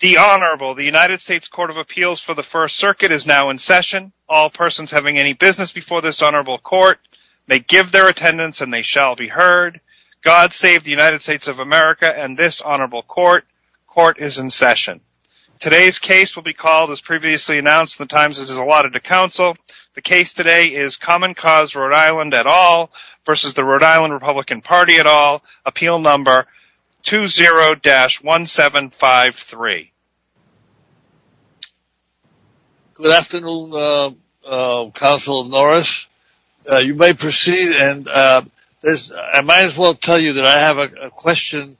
The Honorable, the United States Court of Appeals for the First Circuit is now in session. All persons having any business before this Honorable Court, may give their attendance and they shall be heard. God save the United States of America and this Honorable Court. Court is in session. Today's case will be called, as previously announced, the Times is allotted to counsel. The case today is Common Cause Rhode Island et al. versus the Rhode Island Republican Party et al. Appeal number 20-1753. Good afternoon, Counsel Norris. You may proceed. I might as well tell you that I have a question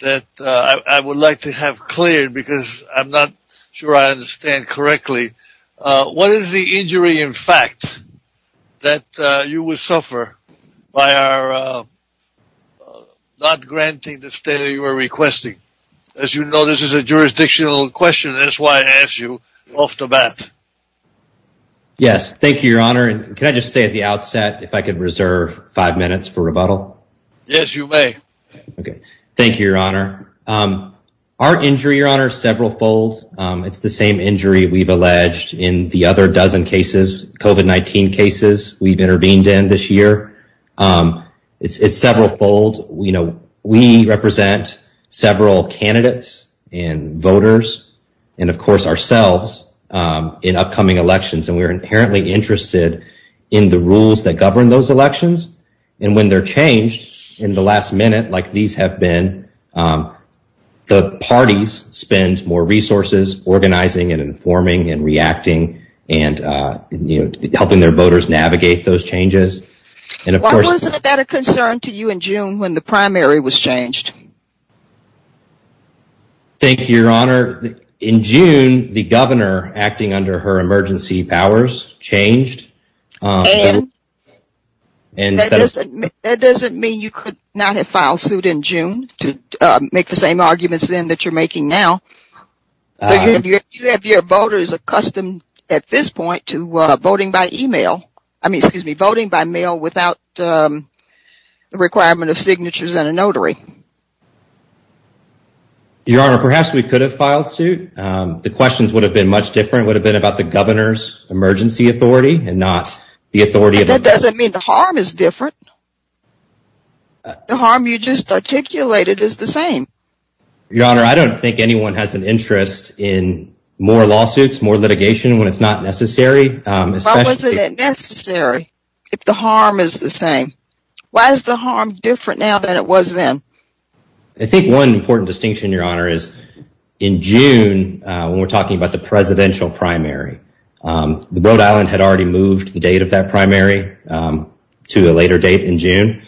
that I would like to have cleared, because I'm not sure I understand correctly. What is the injury, in fact, that you would suffer by not granting the state that you were requesting? As you know, this is a jurisdictional question. That's why I asked you off the bat. Yes, thank you, Your Honor. Can I just say at the outset, if I could reserve five minutes for rebuttal? Yes, you may. Okay. Thank you, Your Honor. Our injury, Your Honor, is several folds. It's the same injury we've alleged in the other dozen cases, COVID-19 cases, we've intervened in this year. It's several folds. We represent several candidates and voters and, of course, ourselves in upcoming elections. And we're inherently interested in the rules that govern those elections. And when they're changed in the last minute, like these have been, the parties spend more resources organizing and informing and reacting and, you know, helping their voters navigate those changes. Why wasn't that a concern to you in June when the primary was changed? Thank you, Your Honor. In June, the governor, acting under her emergency powers, changed. And that doesn't mean you could not have filed suit in June to make the same arguments then that you're making now. Do you have your voters accustomed at this point to voting by email? I mean, excuse me, voting by mail without the requirement of signatures and a notary? Your Honor, perhaps we could have filed suit. The questions would have been much different, would have been about the governor's emergency authority and not the authority of... That doesn't mean the harm is different. The harm you just articulated is the same. Your Honor, I don't think anyone has an interest in more lawsuits, more litigation when it's not necessary. Why wasn't it necessary if the harm is the same? Why is the harm different now than it was then? I think one important distinction, Your Honor, is in June, when we're talking about the presidential primary, Rhode Island had already moved the date of that primary to a later date in June.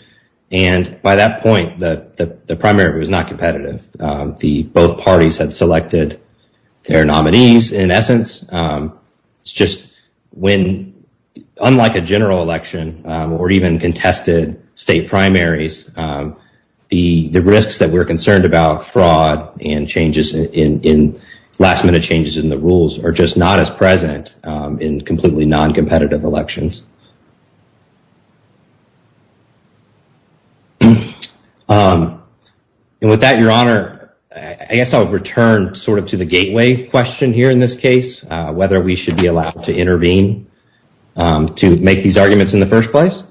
And by that point, the primary was not competitive. Both parties had selected their nominees. In essence, unlike a general election or even contested state primaries, the risks that we're concerned about, fraud and last minute changes in the rules, are just not as present in completely non-competitive elections. And with that, Your Honor, I guess I'll return sort of to the gateway question here in this case, whether we should be allowed to intervene to make these arguments in the first place.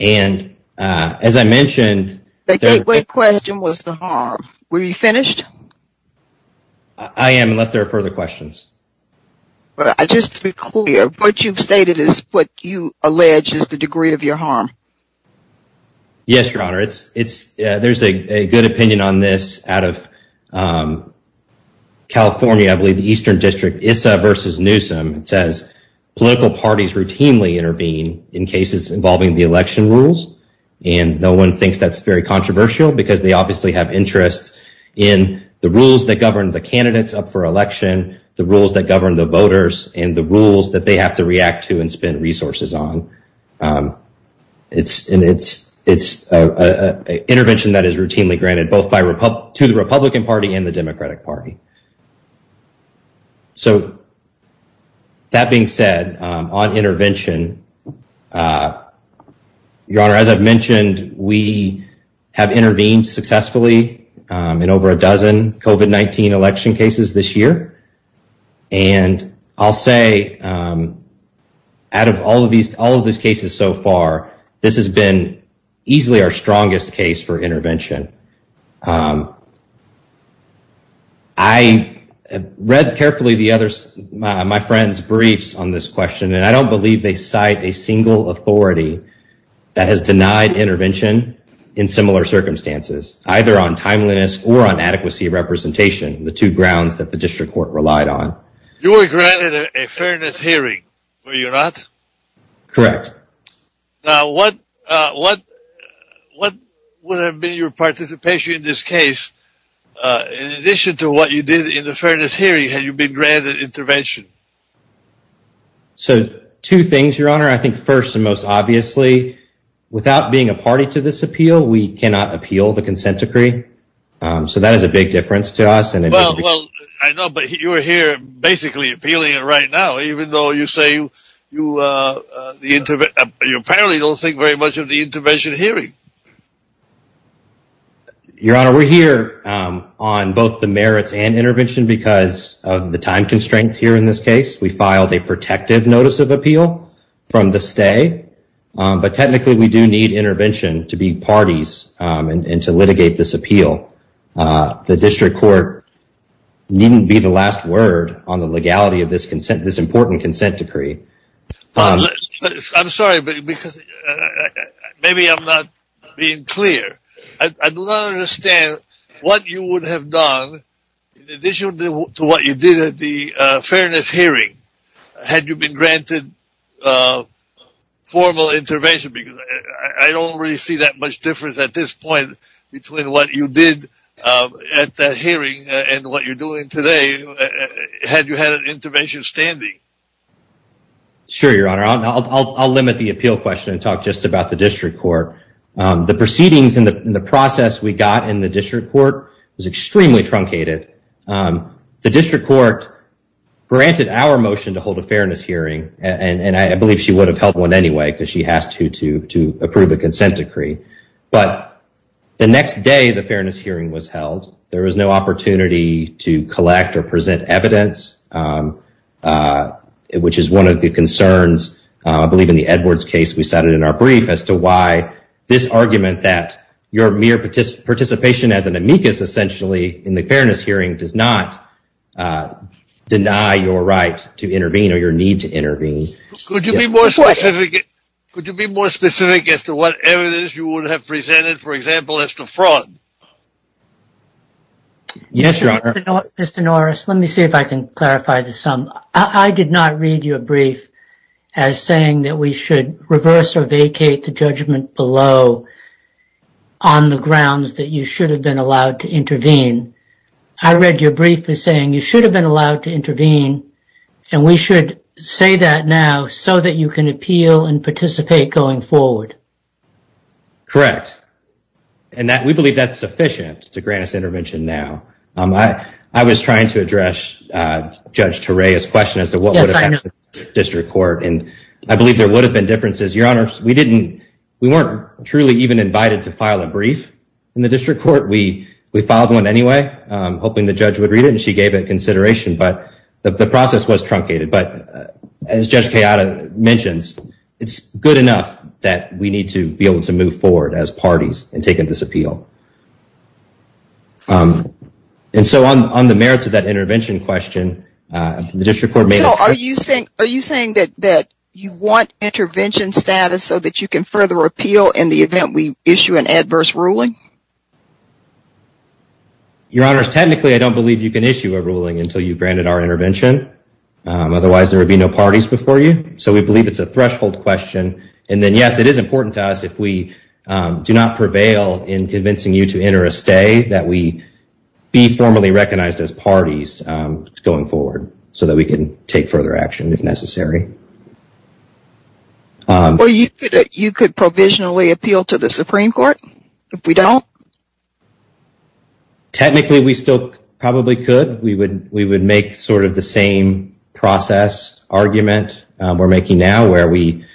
And as I mentioned... The gateway question was the harm. Were you finished? I am, unless there are further questions. But just to be clear, what you've stated is what you allege is the degree of your harm. Yes, Your Honor. There's a good opinion on this out of California. I believe the Eastern District, Issa v. Newsom, says political parties routinely intervene in cases involving the election rules. And no one thinks that's very controversial because they obviously have interest in the rules that govern the candidates up for election, the rules that govern the voters, and the rules that they have to react to and spend resources on. And it's an intervention that is routinely granted, both to the Republican Party and the Democratic Party. So that being said, on intervention, Your Honor, as I've mentioned, we have intervened successfully in over a dozen COVID-19 election cases this year. And I'll say out of all of these cases so far, this has been easily our strongest case for intervention. I read carefully my friend's briefs on this question, and I don't believe they cite a single authority that has denied intervention in similar circumstances, either on timeliness or on adequacy of representation, the two grounds that the district court relied on. You were granted a fairness hearing, were you not? Correct. Now, what would have been your participation in this case, in addition to what you did in the fairness hearing, had you been granted intervention? So two things, Your Honor. I think first and most obviously, without being a party to this appeal, we cannot appeal the consent decree. So that is a big difference to us. Well, I know, but you're here basically appealing it right now, even though you say you apparently don't think very much of the intervention hearing. Your Honor, we're here on both the merits and intervention because of the time constraints here in this case. We filed a protective notice of appeal from the stay. But technically, we do need intervention to be parties and to litigate this appeal. The district court needn't be the last word on the legality of this important consent decree. I'm sorry, but maybe I'm not being clear. I do not understand what you would have done, in addition to what you did at the fairness hearing, had you been granted formal intervention? Because I don't really see that much difference at this point between what you did at that hearing and what you're doing today, had you had an intervention standing. Sure, Your Honor. I'll limit the appeal question and talk just about the district court. The proceedings and the process we got in the district court was extremely truncated. The district court granted our motion to hold a fairness hearing, and I believe she would have held one anyway because she has to approve a consent decree. But the next day, the fairness hearing was held. There was no opportunity to collect or present evidence, which is one of the concerns, I believe, in the Edwards case we cited in our brief as to why this argument that your mere participation as an amicus, essentially, in the fairness hearing does not deny your right to intervene or your need to intervene. Could you be more specific as to what evidence you would have presented, for example, as to fraud? Yes, Your Honor. Mr. Norris, let me see if I can clarify this some. I did not read your brief as saying that we should reverse or vacate the judgment below on the grounds that you should have been allowed to intervene. I read your brief as saying you should have been allowed to intervene, and we should say that now so that you can appeal and participate going forward. Correct. And we believe that's sufficient to grant us intervention now. I was trying to address Judge Torea's question as to what would have happened in the district court, and I believe there would have been differences. Your Honor, we weren't truly even invited to file a brief in the district court. We filed one anyway, hoping the judge would read it, and she gave it consideration. But the process was truncated. But as Judge Kayada mentions, it's good enough that we need to be able to move forward as parties and take a disappeal. And so on the merits of that intervention question, the district court may not— Are you saying that you want intervention status so that you can further appeal in the event we issue an adverse ruling? Your Honor, technically, I don't believe you can issue a ruling until you've granted our intervention. Otherwise, there would be no parties before you. So we believe it's a threshold question. And then, yes, it is important to us if we do not prevail in convincing you to enter a stay that we be formally recognized as parties going forward so that we can take further action if necessary. Or you could provisionally appeal to the Supreme Court if we don't? Technically, we still probably could. We would make sort of the same process argument we're making now where we,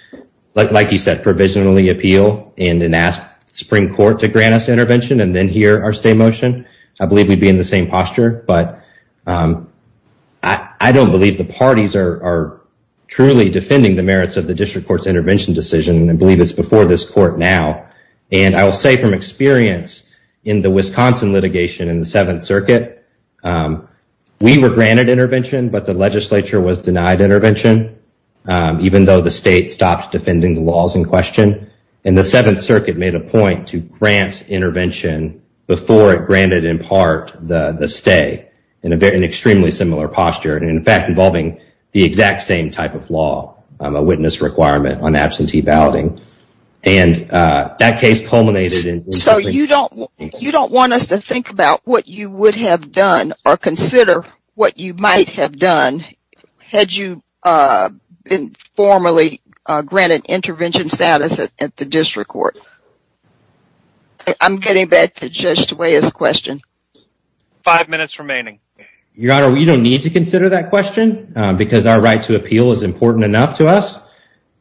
like you said, provisionally appeal and then ask the Supreme Court to grant us intervention and then hear our stay motion. I believe we'd be in the same posture. But I don't believe the parties are truly defending the merits of the district court's intervention decision. And I believe it's before this court now. And I will say from experience in the Wisconsin litigation in the Seventh Circuit, we were granted intervention, but the legislature was denied intervention, even though the state stopped defending the laws in question. And the Seventh Circuit made a point to grant intervention before it granted, in part, the stay in an extremely similar posture and, in fact, involving the exact same type of law, a witness requirement on absentee balloting. And that case culminated in- So you don't want us to think about what you would have done or consider what you might have done had you been formally granted intervention status at the district court. I'm getting back to Judge DeWaye's question. Five minutes remaining. Your Honor, we don't need to consider that question because our right to appeal is important enough to us.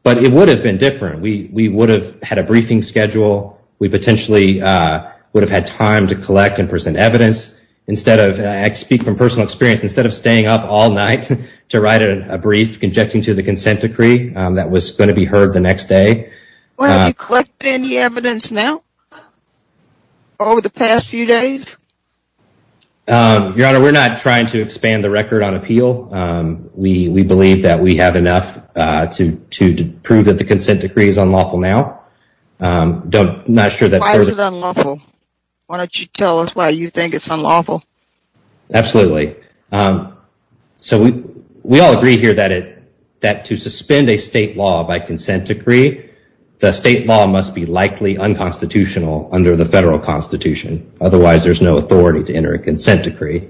But it would have been different. We would have had a briefing schedule. We potentially would have had time to collect and present evidence. Instead of- I speak from personal experience. Instead of staying up all night to write a brief conjecting to the consent decree that was going to be heard the next day- Have you collected any evidence now over the past few days? Your Honor, we're not trying to expand the record on appeal. We believe that we have enough to prove that the consent decree is unlawful now. I'm not sure that- Why is it unlawful? Why don't you tell us why you think it's unlawful? Absolutely. So we all agree here that to suspend a state law by consent decree, the state law must be likely unconstitutional under the federal constitution. Otherwise, there's no authority to enter a consent decree.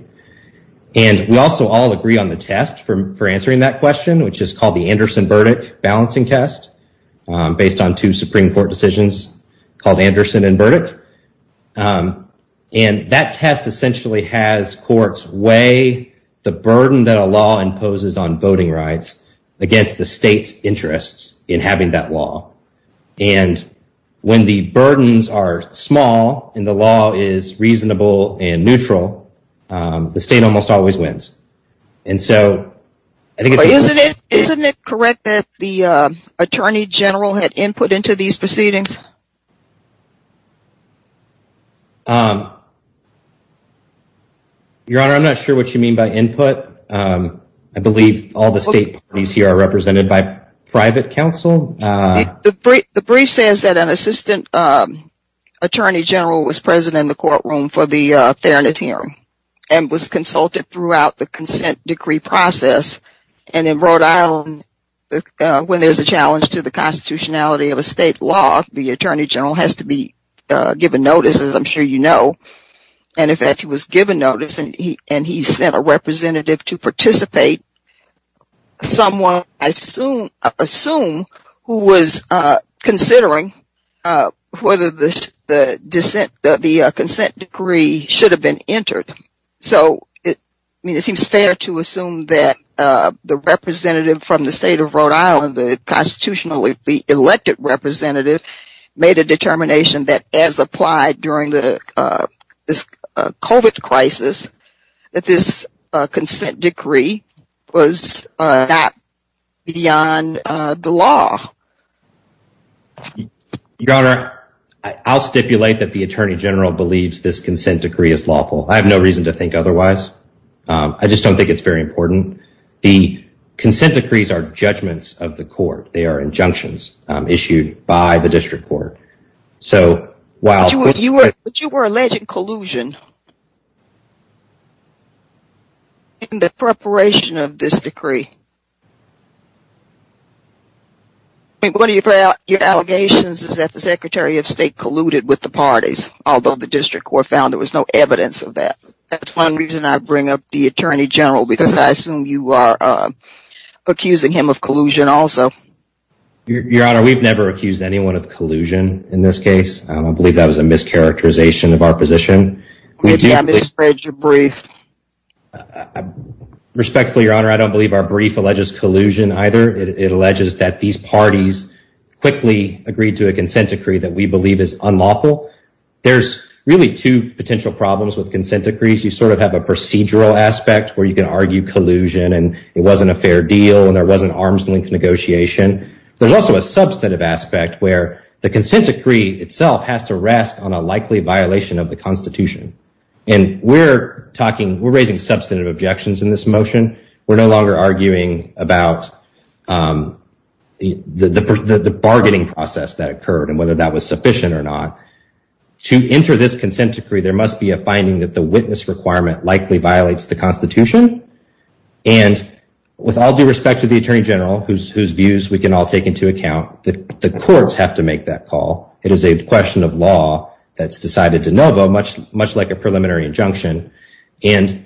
And we also all agree on the test for answering that question, which is called the Anderson Burdick balancing test based on two Supreme Court decisions called Anderson and Burdick. And that test essentially has courts weigh the burden that a law imposes on voting rights against the state's interests in having that law. And when the burdens are small and the law is reasonable and neutral, the state almost always wins. And so- Isn't it correct that the attorney general had input into these proceedings? Your Honor, I'm not sure what you mean by input. I believe all the state parties here are represented by private counsel. The brief says that an assistant attorney general was present in the courtroom for the fairness hearing and was consulted throughout the consent decree process. And in Rhode Island, when there's a challenge to the constitutionality of a state law, the I'm sure you know. And in fact, he was given notice and he sent a representative to participate. Someone, I assume, who was considering whether the consent decree should have been entered. So it seems fair to assume that the representative from the state of Rhode Island, the elected representative, made a determination that as applied during the COVID crisis, that this consent decree was not beyond the law. Your Honor, I'll stipulate that the attorney general believes this consent decree is lawful. I have no reason to think otherwise. I just don't think it's very important. The consent decrees are judgments of the court. They are injunctions issued by the district court. So while you were alleged collusion in the preparation of this decree. And one of your allegations is that the secretary of state colluded with the parties, although the district court found there was no evidence of that. That's one reason I bring up the attorney general, because I assume you are accusing him of collusion also. Your Honor, we've never accused anyone of collusion in this case. I don't believe that was a mischaracterization of our position. I'm afraid your brief. Respectfully, Your Honor, I don't believe our brief alleges collusion either. It alleges that these parties quickly agreed to a consent decree that we believe is unlawful. There's really two potential problems with consent decrees. You sort of have a procedural aspect where you can argue collusion and it wasn't a fair deal and there wasn't arm's length negotiation. There's also a substantive aspect where the consent decree itself has to rest on a likely violation of the Constitution. And we're talking, we're raising substantive objections in this motion. We're no longer arguing about the bargaining process that occurred and whether that was sufficient or not. To enter this consent decree, there must be a finding that the witness requirement likely violates the Constitution. And with all due respect to the Attorney General, whose views we can all take into account, that the courts have to make that call. It is a question of law that's decided de novo, much like a preliminary injunction. And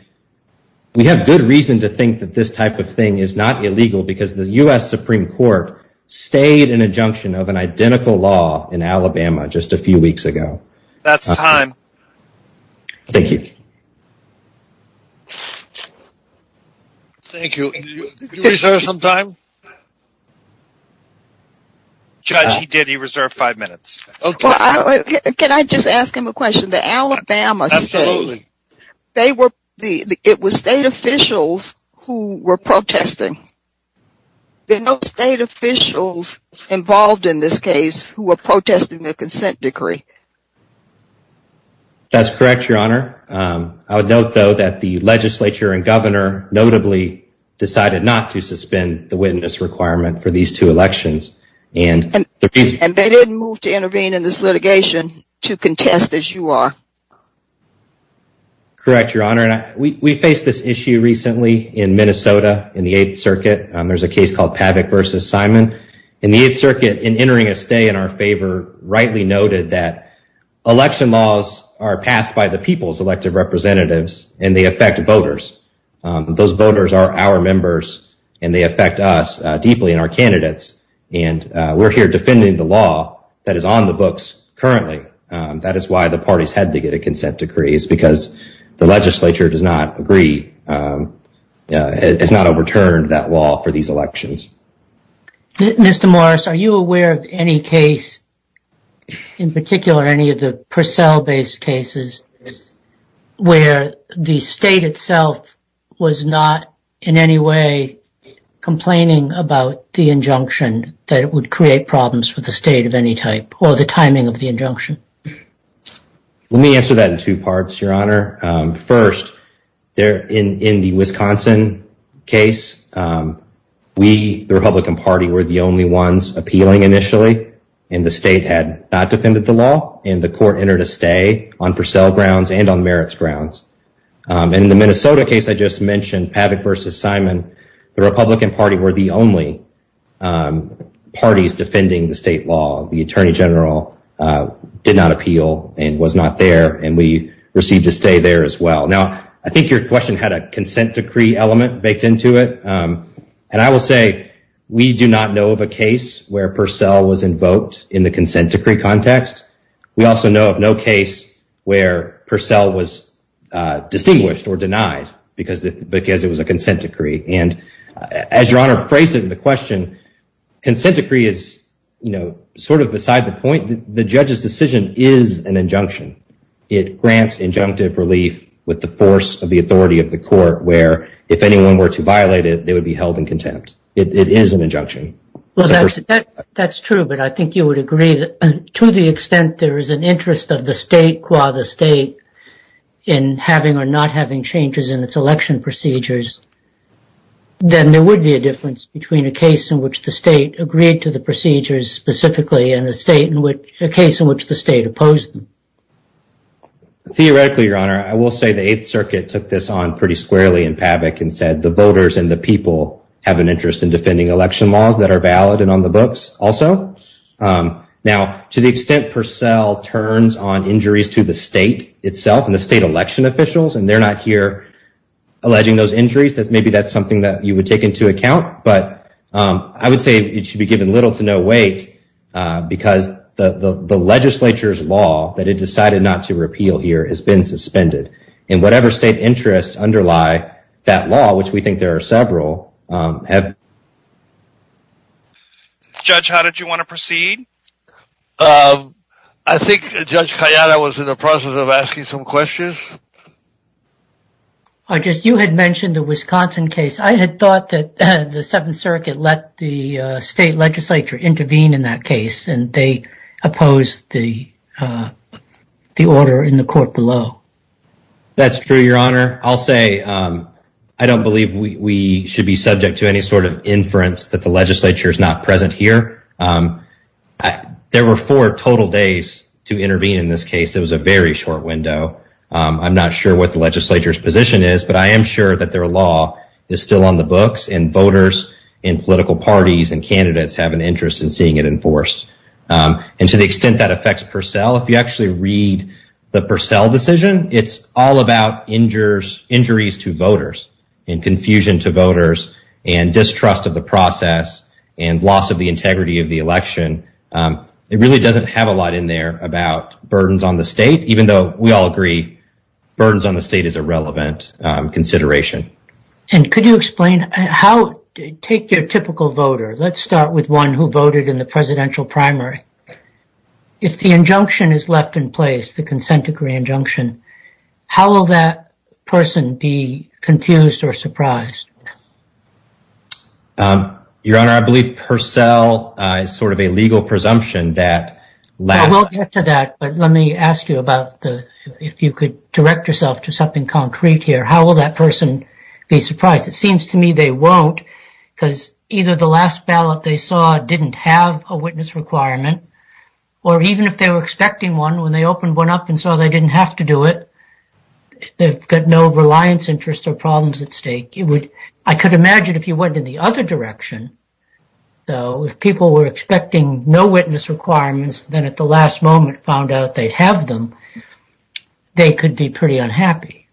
we have good reason to think that this type of thing is not illegal because the U.S. Supreme Court stayed an injunction of an identical law in Alabama just a few weeks ago. That's time. Thank you. Thank you. Did you reserve some time? Judge, he did. He reserved five minutes. Can I just ask him a question? The Alabama case, it was state officials who were protesting. There are no state officials involved in this case who were protesting the consent decree. That's correct, Your Honor. I would note, though, that the legislature and governor, notably, decided not to suspend the witness requirement for these two elections. And they didn't move to intervene in this litigation to contest, as you are. Correct, Your Honor. We faced this issue recently in Minnesota in the 8th Circuit. There's a case called Pavick v. Simon. In the 8th Circuit, in entering a stay in our favor, rightly noted that election laws are passed by the people's elected representatives, and they affect voters. Those voters are our members, and they affect us deeply and our candidates. And we're here defending the law that is on the books currently. That is why the parties had to get a consent decree. It's because the legislature does not agree, has not overturned that law for these elections. Mr. Morris, are you aware of any case, in particular, any of the Purcell-based cases where the state itself was not in any way complaining about the injunction that it would create problems for the state of any type, or the timing of the injunction? Let me answer that in two parts, Your Honor. First, in the Wisconsin case, we, the Republican Party, were the only ones appealing initially, and the state had not defended the law, and the court entered a stay on Purcell grounds and on Merrick's grounds. In the Minnesota case I just mentioned, Pavick v. Simon, the Republican Party were the only parties defending the state law. The Attorney General did not appeal and was not there, and we received a stay there as well. Now, I think your question had a consent decree element baked into it, and I will say we do not know of a case where Purcell was invoked in the consent decree context. We also know of no case where Purcell was distinguished or denied because it was a consent decree. And as Your Honor phrased it in the question, consent decree is sort of beside the point. The judge's decision is an injunction. It grants injunctive relief with the force of the authority of the court, where if anyone were to violate it, it would be held in contempt. It is an injunction. That's true, but I think you would agree that to the extent there is an interest of the state qua the state in having or not having changes in its election procedures, then there would be a difference between a case in which the state agreed to the procedures specifically and a case in which the state opposed them. Theoretically, Your Honor, I will say the 8th Circuit took this on pretty squarely in PABIC and said the voters and the people have an interest in defending election laws that are valid and on the books also. Now, to the extent Purcell turns on injuries to the state itself and the state election officials, and they're not here alleging those injuries, maybe that's something that you would take into account. But I would say it should be given little to no weight because the legislature's law that it decided not to repeal here has been suspended. And whatever state interests underlie that law, which we think there are several... Judge, how did you want to proceed? I think Judge Kayada was in the process of asking some questions. I guess you had mentioned the Wisconsin case. I had thought that the 7th Circuit let the state legislature intervene in that case, and they opposed the order in the court below. That's true, Your Honor. I'll say I don't believe we should be subject to any sort of inference that the legislature is not present here. There were four total days to intervene in this case. It was a very short window. I'm not sure what the legislature's position is, but I am sure that their law is still on the books, and voters and political parties and candidates have an interest in seeing it enforced. And to the extent that affects Purcell, if you actually read the Purcell decision, it's all about injuries to voters and confusion to voters and distrust of the process and loss of the integrity of the election. It really doesn't have a lot in there about burdens on the state, even though we all agree burdens on the state is a relevant consideration. And could you explain how, take your typical voter, let's start with one who voted in the presidential primary. If the injunction is left in place, the consent decree injunction, how will that person be confused or surprised? Your Honor, I believe Purcell is sort of a legal presumption that... I won't get to that, but let me ask you about, if you could direct yourself to something concrete here, how will that person be surprised? It seems to me they won't because either the last ballot they saw didn't have a witness requirement, or even if they were expecting one when they opened one up and saw they didn't have to do it, they've got no reliance interests or problems at stake. I could imagine if you went in the other direction, so if people were expecting no witness requirements, then at the last moment found out they have them, they could be pretty unhappy.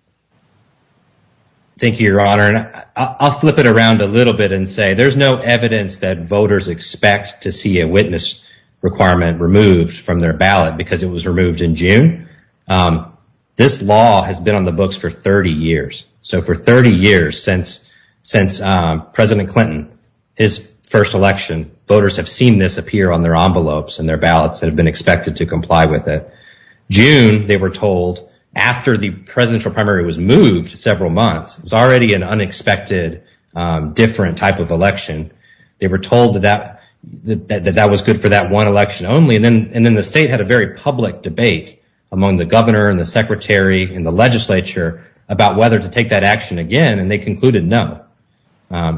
Thank you, Your Honor. I'll flip it around a little bit and say there's no evidence that voters expect to see a witness requirement removed from their ballot because it was removed in June. This law has been on the books for 30 years. So for 30 years since President Clinton, his first election, voters have seen this appear on their envelopes and their ballots that have been expected to comply with it. June, they were told after the presidential primary was moved several months, it was already an unexpected different type of election. They were told that that was good for that one election only, and then the state had a very public debate among the governor and the secretary and the legislature about whether to take that action again, and they concluded no.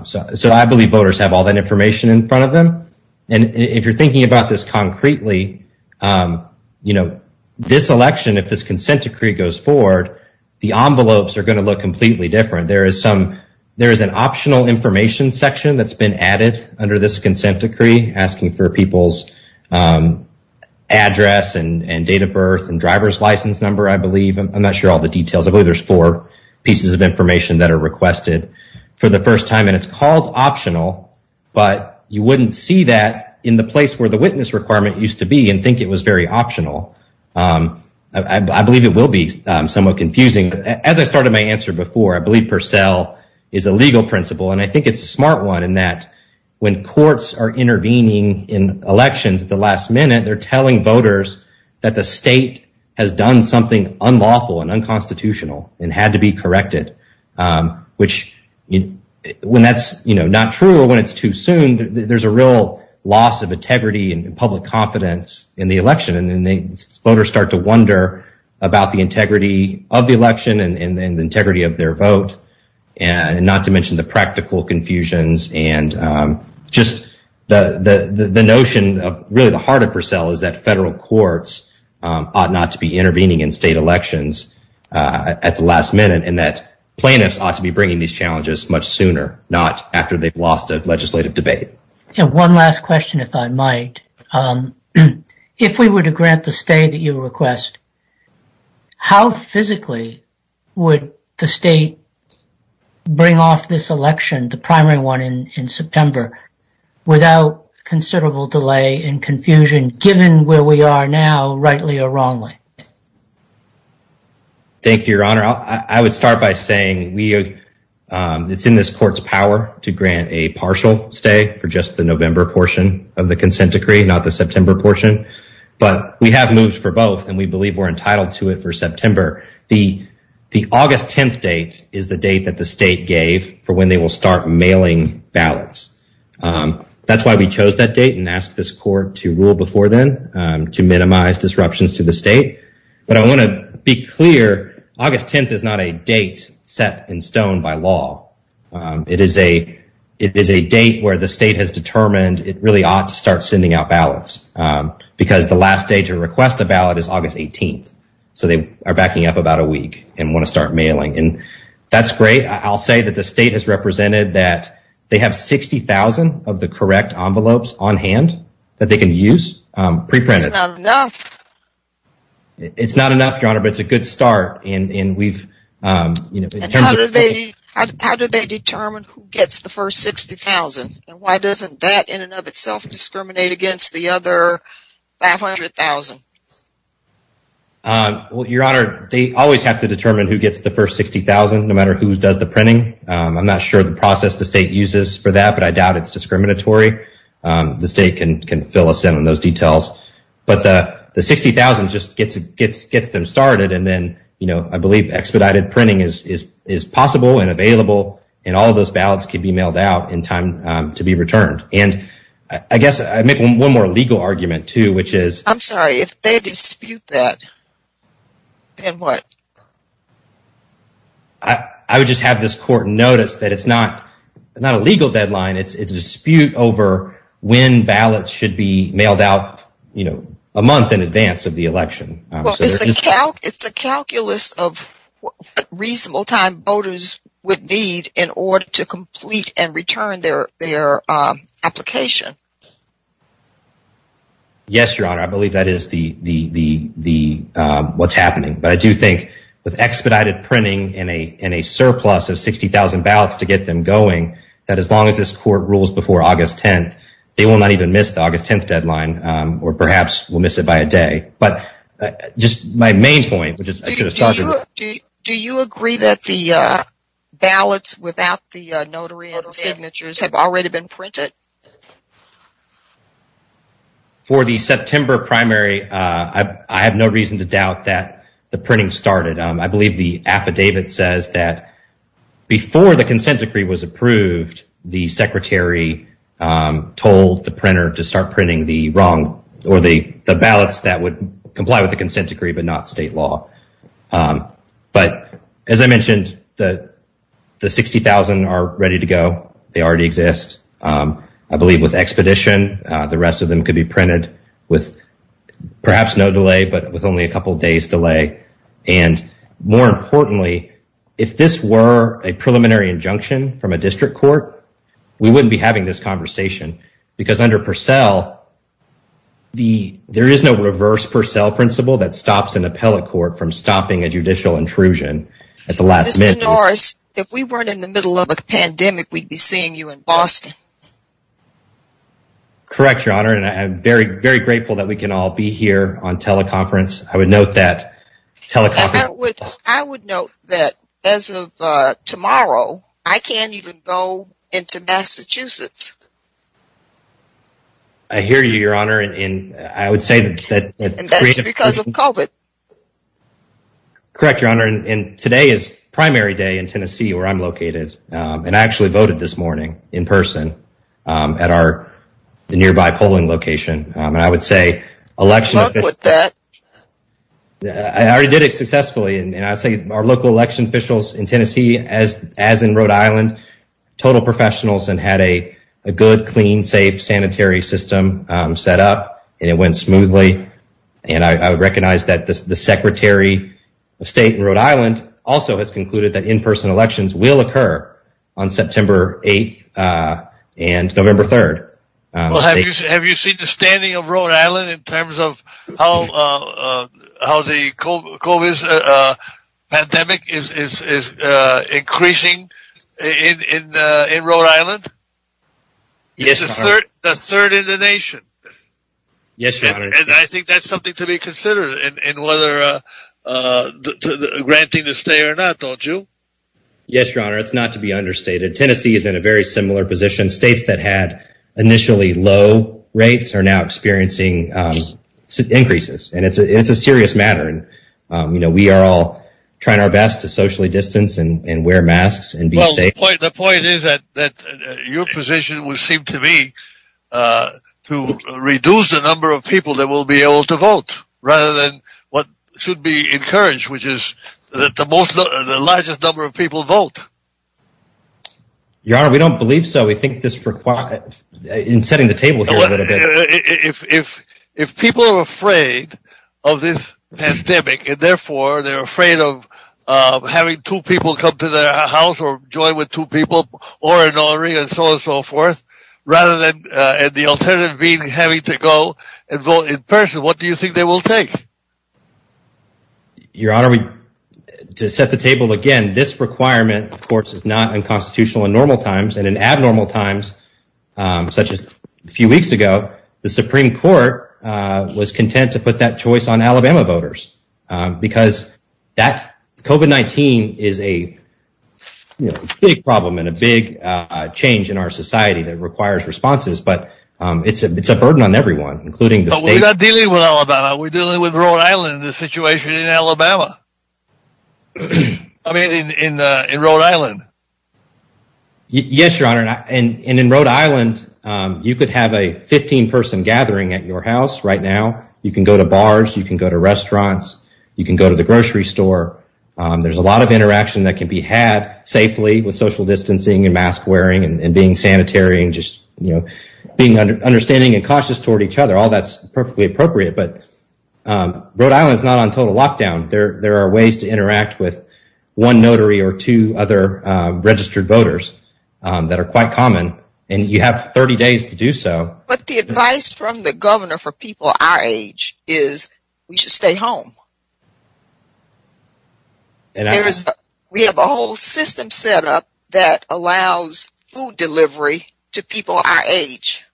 So I believe voters have all that information in front of them. And if you're thinking about this concretely, this election, if this consent decree goes forward, the envelopes are going to look completely different. There is an optional information section that's been added under this consent decree asking for people's address and date of birth and driver's license number, I believe. I'm not sure all the details, but there's four pieces of information that are requested for the first time, and it's called optional, but you wouldn't see that in the place where the witness requirement used to be and think it was very optional. I believe it will be somewhat confusing. As I started my answer before, I believe Purcell is a legal principle, and I think it's a smart one in that when courts are intervening in elections at the last minute, they're telling voters that the state has done something unlawful and unconstitutional and had to be corrected, which when that's not true or when it's too soon, there's a real loss of integrity and public confidence in the election, and then voters start to wonder about the integrity of the election and the integrity of their vote, and not to mention the practical confusions and just the notion of really the heart of Purcell is that federal courts ought not to be intervening in state elections at the last minute and that plaintiffs ought to be bringing these challenges much sooner, not after they've lost a legislative debate. Yeah, one last question, if I might. If we were to grant the stay that you request, how physically would the state bring off this election, the primary one in September, without considerable delay and confusion, given where we are now, rightly or wrongly? Thank you, Your Honor. I would start by saying it's in this court's power to grant a partial stay for just the November portion of the consent decree, not the September portion, but we have moved for both and we believe we're entitled to it for September. The August 10th date is the date that the state gave for when they will start mailing ballots. That's why we chose that date and asked this court to rule before then to minimize disruptions to the state, but I want to be clear, August 10th is not a date set in stone by law. It is a date where the state has determined it really ought to start sending out ballots because the last day to request a ballot is August 18th. So they are backing up about a week and want to start mailing and that's great. I'll say that the state has represented that they have 60,000 of the correct envelopes on hand that they can use pre-printed. It's not enough, Your Honor, but it's a good start. How do they determine who gets the first 60,000 and why doesn't that in and of itself discriminate against the other 500,000? Well, Your Honor, they always have to determine who gets the first 60,000 no matter who does the printing. I'm not sure the process the state uses for that, but I doubt it's discriminatory. The state can fill us in on those details, but the 60,000 just gets them started and then I believe expedited printing is possible and available and all of those ballots can be mailed out in time to be returned. And I guess I make one more legal argument too, which is- I'm sorry, if they dispute that, then what? I would just have this court notice that it's not a legal deadline, it's a dispute over when ballots should be mailed out a month in advance of the election. It's a calculus of reasonable time voters would need in order to complete and return their application. Yes, Your Honor, I believe that is what's happening. But I do think with expedited printing in a surplus of 60,000 ballots to get them going, that as long as this court rules before August 10th, they will not even miss the August 10th deadline or perhaps we'll miss it by a day. But just my main point, which is- Do you agree that the ballots without the notary and signatures have already been printed? For the September primary, I have no reason to doubt that the printing started. I believe the affidavit says that before the consent decree was approved, the secretary told the printer to start printing the ballots that would comply with the consent decree, but not state law. But as I mentioned, the 60,000 are ready to go. They already exist. I believe with expedition, the rest of them could be printed with perhaps no delay, but with only a couple of days delay. And more importantly, if this were a preliminary injunction from a district court, we wouldn't be having this conversation because under Purcell, there is no reverse Purcell principle that stops an appellate court from stopping a judicial intrusion at the last minute. Mr. Norris, if we weren't in the middle of a pandemic, we'd be seeing you in Boston. Correct, Your Honor. And I'm very, very grateful that we can all be here on teleconference. I would note that- I would note that as of tomorrow, I can't even go into Massachusetts. I hear you, Your Honor. And I would say that- And that's because of COVID. Correct, Your Honor. And today is primary day in Tennessee, where I'm located. And I actually voted this morning in person at our nearby polling location. And I would say election- Good luck with that. I already did it successfully. And I'd say our local election officials in Tennessee, as in Rhode Island, total professionals, and had a good, clean, safe, sanitary system set up. And it went smoothly. And I recognize that the Secretary of State in Rhode Island also has concluded that in-person elections will occur on September 8th and November 3rd. Have you seen the standing of Rhode Island in terms of how the COVID pandemic is increasing in Rhode Island? Yes, Your Honor. It's the third in the nation. Yes, Your Honor. And I think that's something to be considered in whether granting the stay or not, don't you? Yes, Your Honor. It's not to be understated. Tennessee is in a very similar position. States that had initially low rates are now experiencing increases. And it's a serious matter. We are all trying our best to socially distance and wear masks and be safe. Well, the point is that your position would seem to me to reduce the number of people that will be able to vote rather than what should be encouraged, which is that the largest number of people vote. Your Honor, we don't believe so. We think this requires... In setting the table here a little bit. If people are afraid of this pandemic and therefore they're afraid of having two people come to their house or join with two people or an honoring and so on and so forth, rather than the alternative being having to go and vote in person, what do you think they will take? Your Honor, to set the table again, this requirement, of course, is not in constitutional and normal times and in abnormal times, such as a few weeks ago, the Supreme Court was content to put that choice on Alabama voters because COVID-19 is a big problem and a big change in our society that requires responses. But it's a burden on everyone, including the state. But we're not dealing with Alabama. We're dealing with Rhode Island, the situation in Alabama. I mean, in Rhode Island. Yes, Your Honor. And in Rhode Island, you could have a 15-person gathering at your house right now. You can go to bars, you can go to restaurants, you can go to the grocery store. There's a lot of interaction that can be had safely with social distancing and mask wearing and being sanitary and just being understanding and cautious toward each other. All that's perfectly appropriate, but Rhode Island is not on total lockdown. There are ways to interact with one notary or two other registered voters that are quite common. And you have 30 days to do so. But the advice from the governor for people our age is we should stay home. We have a whole system set up that allows food delivery to people our age.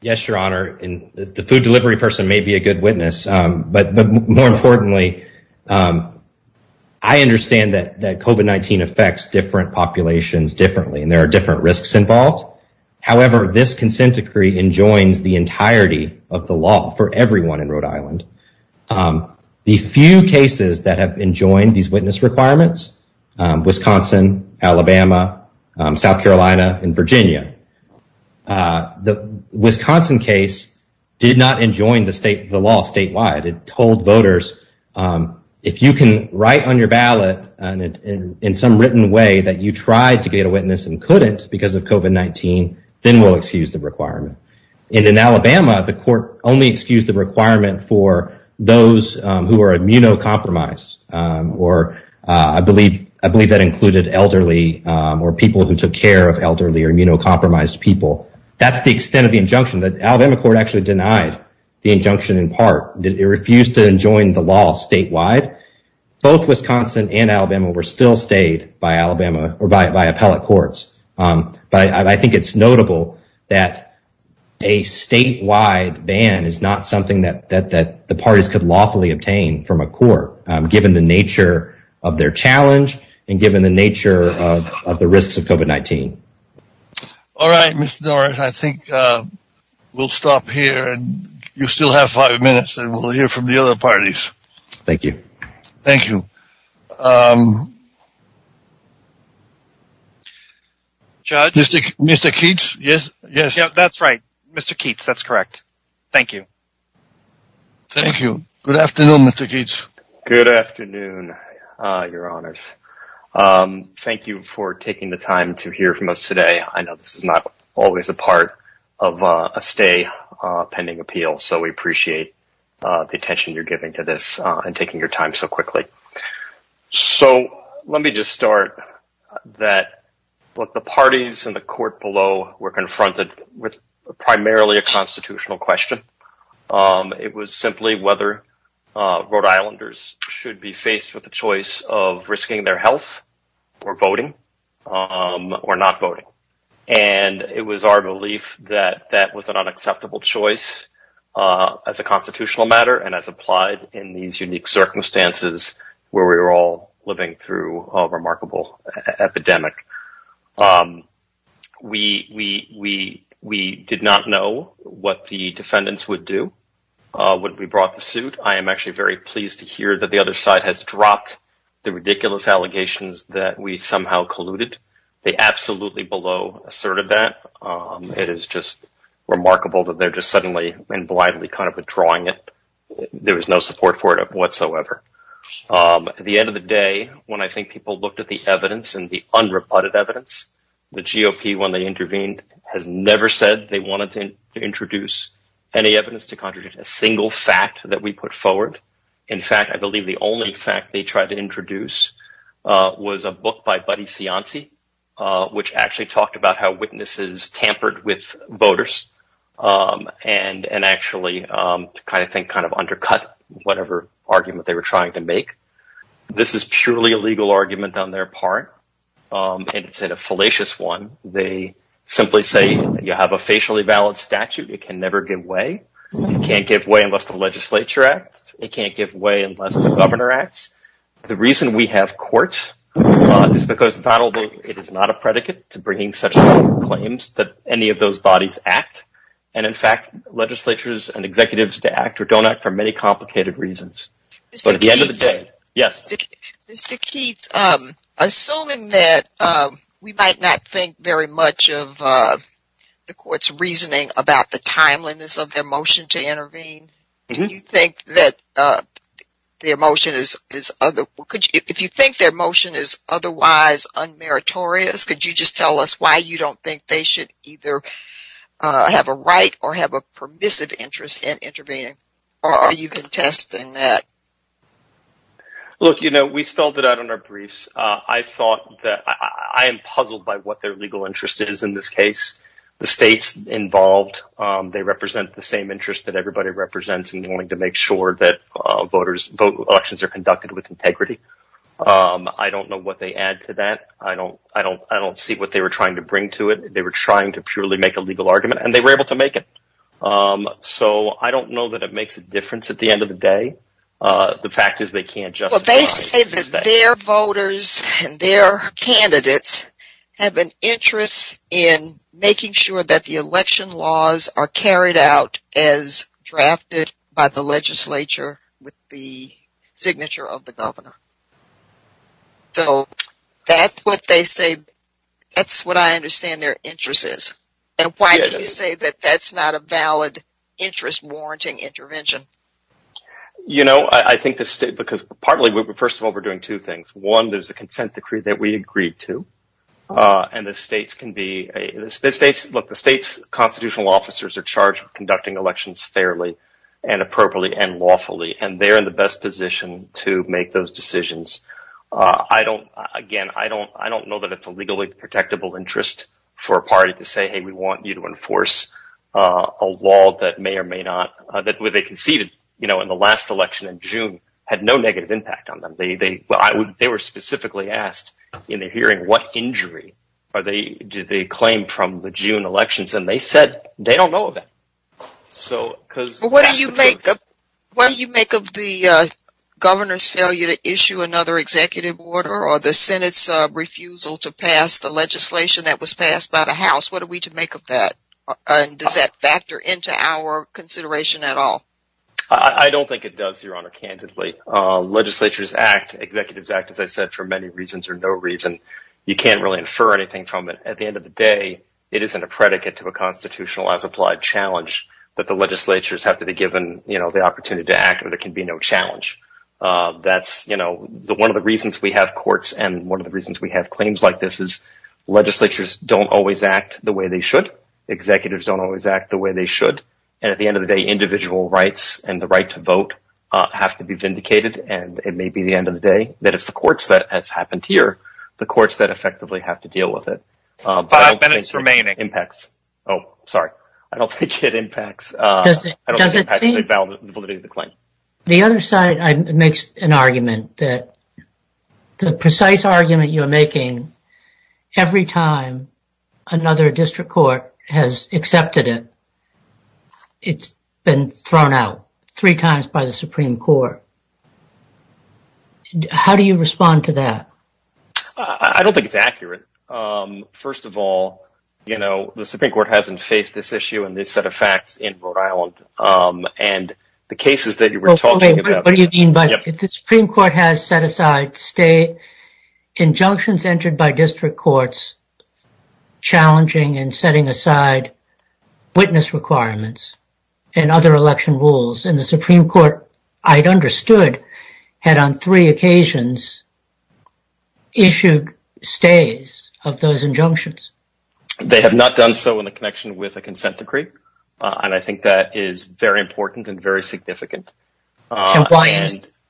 Yes, Your Honor. And the food delivery person may be a good witness. But more importantly, I understand that COVID-19 affects different populations differently and there are different risks involved. However, this consent decree enjoins the entirety of the law for everyone in Rhode Island. The few cases that have enjoined these witness requirements, Wisconsin, Alabama, South Carolina, and Virginia. The Wisconsin case did not enjoin the state, it told voters, if you can write on your ballot in some written way that you tried to be a witness and couldn't because of COVID-19, then we'll excuse the requirement. And in Alabama, the court only excused the requirement for those who are immunocompromised or I believe that included elderly or people who took care of elderly or immunocompromised people. That's the extent of the injunction that Alabama court actually denied the injunction in part that it refused to enjoin the law statewide. Both Wisconsin and Alabama were still stayed by Alabama or by appellate courts. But I think it's notable that a statewide ban is not something that the parties could lawfully obtain from a court given the nature of their challenge and given the nature of the risks of COVID-19. All right, Mr. Dorff, I think we'll stop here and you still have five minutes and we'll hear from the other parties. Thank you. Thank you. Judge? Mr. Keats, yes, yes. Yeah, that's right. Mr. Keats, that's correct. Thank you. Thank you. Good afternoon, Mr. Keats. Good afternoon, your honors. Thank you for taking the time to hear from us today. I know this is not always a part of a stay pending appeal. So we appreciate the attention you're giving to this and taking your time so quickly. So let me just start that what the parties and the court below were confronted with primarily a constitutional question. It was simply whether Rhode Islanders should be faced with the choice of risking their health or voting. Or not voting. And it was our belief that that was an unacceptable choice as a constitutional matter and as applied in these unique circumstances where we were all living through a remarkable epidemic. We did not know what the defendants would do when we brought the suit. I am actually very pleased to hear that the other side has dropped the ridiculous allegations that we somehow colluded. They absolutely below asserted that. It is just remarkable that they're just suddenly and blithely kind of withdrawing it. There was no support for it whatsoever. At the end of the day, when I think people looked at the evidence and the unrebutted evidence, the GOP when they intervened has never said they wanted to introduce any evidence to contradict a single fact that we put forward. In fact, I believe the only fact they tried to introduce was a book by Buddy Cianci, which actually talked about how witnesses tampered with voters and actually kind of undercut whatever argument they were trying to make. This is purely a legal argument on their part. It's a fallacious one. They simply say you have a facially valid statute. It can never give way. It can't give way unless the legislature acts. It can't give way unless the governor acts. The reason we have courts is because it is not a predicate to bringing such claims that any of those bodies act. And in fact, legislatures and executives to act or don't act for many complicated reasons. But at the end of the day, yes. Mr. Keats, assuming that we might not think very much of the court's reasoning about the timeliness of their motion to intervene, do you think that their motion is otherwise unmeritorious? Could you just tell us why you don't think they should either have a right or have a permissive interest in intervening? Or are you contesting that? Look, you know, we spelled it out in our briefs. I thought that I am puzzled by what their legal interest is in this case. The states involved, they represent the same interest that everybody represents in wanting to make sure that elections are conducted with integrity. I don't know what they add to that. I don't see what they were trying to bring to it. They were trying to purely make a legal argument and they were able to make it. So I don't know that it makes a difference at the end of the day. The fact is they can't just- But they say that their voters and their candidates have an interest in making sure that the election laws are carried out as drafted by the legislature with the signature of the governor. So that's what they say. That's what I understand their interest is. And why do you say that that's not a valid interest-warranting intervention? You know, I think the state- Because partly, first of all, we're doing two things. One, there's a consent decree that we agreed to. And the states can be- Look, the state's constitutional officers are charged with conducting elections fairly and appropriately and lawfully. And they're in the best position to make those decisions. I don't- Again, I don't know that it's a legally protectable interest for a party to say, hey, we want you to enforce a law that may or may not- That they conceded in the last election in June had no negative impact on them. They were specifically asked in the hearing, what injury do they claim from the June elections? And they said they don't know that. So because- But what do you make of the governor's failure to issue another executive order or the Senate's refusal to pass the legislation that was passed by the House? What are we to make of that? And does that factor into our consideration at all? I don't think it does, Your Honor, candidly. Legislature's act, executive's act, as I said, for many reasons or no reason, you can't really infer anything from it. At the end of the day, it isn't a predicate to a constitutional as applied challenge that the legislatures have to be given the opportunity to act, but it can be no challenge. That's one of the reasons we have courts and one of the reasons we have cleanings like this is legislatures don't always act the way they should. Executives don't always act the way they should. And at the end of the day, individual rights and the right to vote have to be vindicated. And it may be the end of the day that it's the courts that has happened here, the courts that effectively have to deal with it. But I've been in it for many impacts. Oh, sorry. I don't think it impacts the validity of the claim. The other side makes an argument that the precise argument you're making every time another district court has accepted it, it's been thrown out three times by the Supreme Court. How do you respond to that? I don't think it's accurate. First of all, the Supreme Court hasn't faced this issue and this set of facts in Rhode Island and the cases that you were talking about. What do you mean by that? If the Supreme Court has set aside state injunctions entered by district courts, challenging and setting aside witness requirements and other election rules and the Supreme Court, I'd understood, had on three occasions issued stays of those injunctions. They have not done so in the connection with a consent decree. And I think that is very important and very significant. What's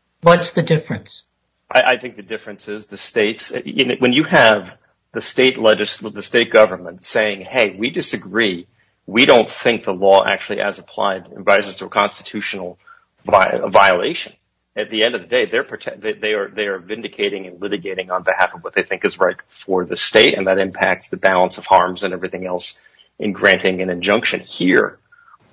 the difference? I think the difference is the states, when you have the state government saying, hey, we disagree. We don't think the law actually has applied in violation to a constitutional violation. At the end of the day, they are vindicating and litigating on behalf of what they think is right for the state. And that impacts the balance of harms and everything else in granting an injunction here.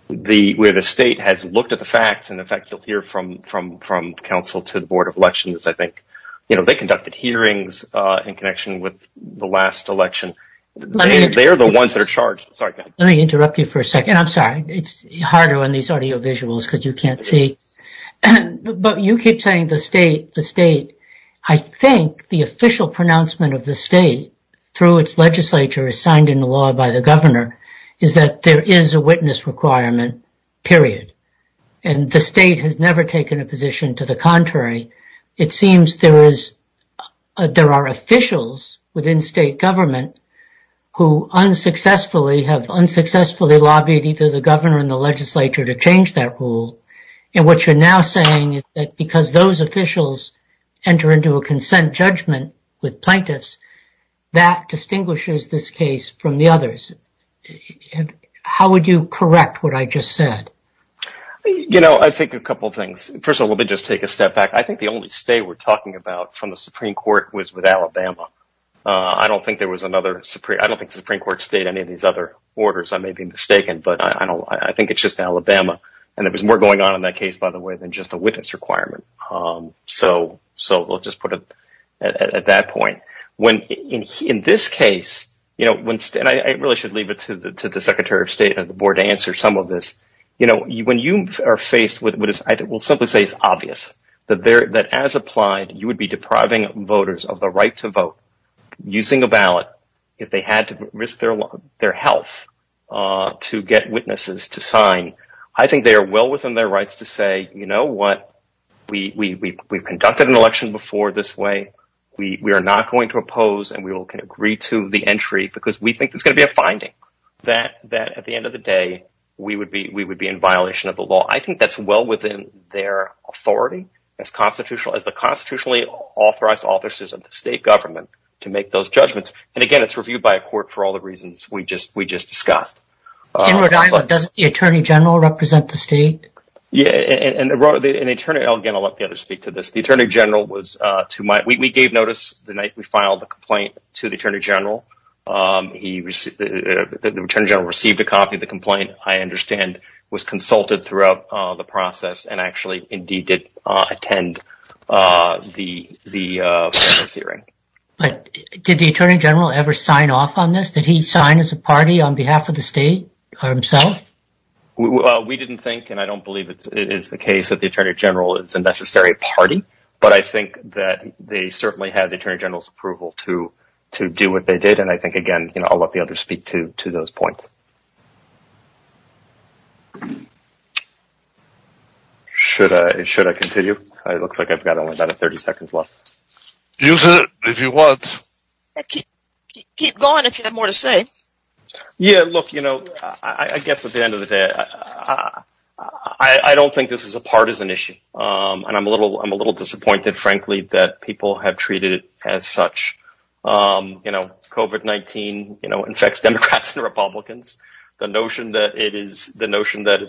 Where the state has looked at the facts and in fact, you'll hear from counsel to the Board of Elections, I think, they conducted hearings in connection with the last election. They're the ones that are charged. Sorry. Let me interrupt you for a second. I'm sorry. It's harder on these audio visuals because you can't see. But you keep saying the state. The state, I think the official pronouncement of the state through its legislature is signed into law by the governor is that there is a witness requirement, period. And the state has never taken a position to the contrary. It seems there are officials within state government who unsuccessfully have unsuccessfully lobbied either the governor and the legislature to change that rule. And what you're now saying is that because those officials enter into a consent judgment with plaintiffs, that distinguishes this case from the others. How would you correct what I just said? You know, I think a couple of things. First of all, let me just take a step back. I think the only state we're talking about from the Supreme Court was with Alabama. I don't think there was another Supreme... I don't think the Supreme Court stayed in any of these other orders. I may be mistaken, but I don't... I think it's just Alabama. And there was more going on in that case, by the way, than just a witness requirement. So we'll just put it at that point. When, in this case, you know, when... And I really should leave it to the Secretary of State and the board to answer some of this. You know, when you are faced with... I will simply say it's obvious that as applied, you would be depriving voters of the right to vote using a ballot if they had to risk their health to get witnesses to sign. I think they are well within their rights to say, you know what? We've conducted an election before this way. We are not going to oppose and we will agree to the entry because we think there's going to be a finding that at the end of the day, we would be in violation of the law. I think that's well within their authority as the constitutionally authorized offices of the state government to make those judgments. And again, it's reviewed by a court for all the reasons we just discussed. In Rhode Island, does the Attorney General represent the state? Yeah, and Attorney... Again, I'll let the other speak to this. The Attorney General was to my... We gave notice the night we filed the complaint to the Attorney General. He received... The Attorney General received a copy of the complaint, I understand, was consulted throughout the process and actually indeed did attend the hearing. Did the Attorney General ever sign off on this? Did he sign as a party on behalf of the state or himself? Well, we didn't think and I don't believe it is the case that the Attorney General is a necessary party, but I think that they certainly had the Attorney General's approval to do what they did. And I think, again, I'll let the other speak to those points. Should I continue? It looks like I've got only about 30 seconds left. Use it if you want. Keep going if you have more to say. Yeah, look, I guess at the end of the day, I don't think this is a partisan issue. And I'm a little disappointed, frankly, that people have treated it as such. COVID-19 infects Democrats and Republicans. The notion that it is... The notion that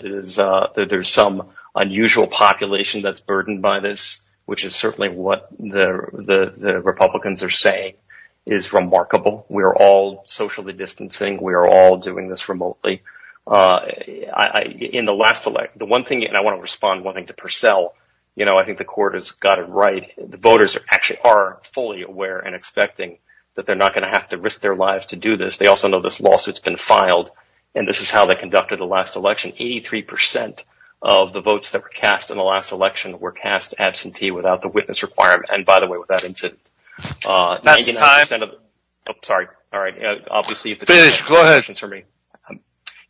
there's some unusual population that's burdened by this, which is certainly what the Republicans are saying, is remarkable. We're all socially distancing. We're all doing this remotely. In the last election, the one thing, and I want to respond, one thing to Purcell, I think the court has got it right. The voters actually are fully aware and expecting that they're not going to have to risk their lives to do this. They also know this lawsuit's been filed and this is how they conducted the last election. 83% of the votes that were cast in the last election And by the way, with that incident, sorry, all right. Please, go ahead.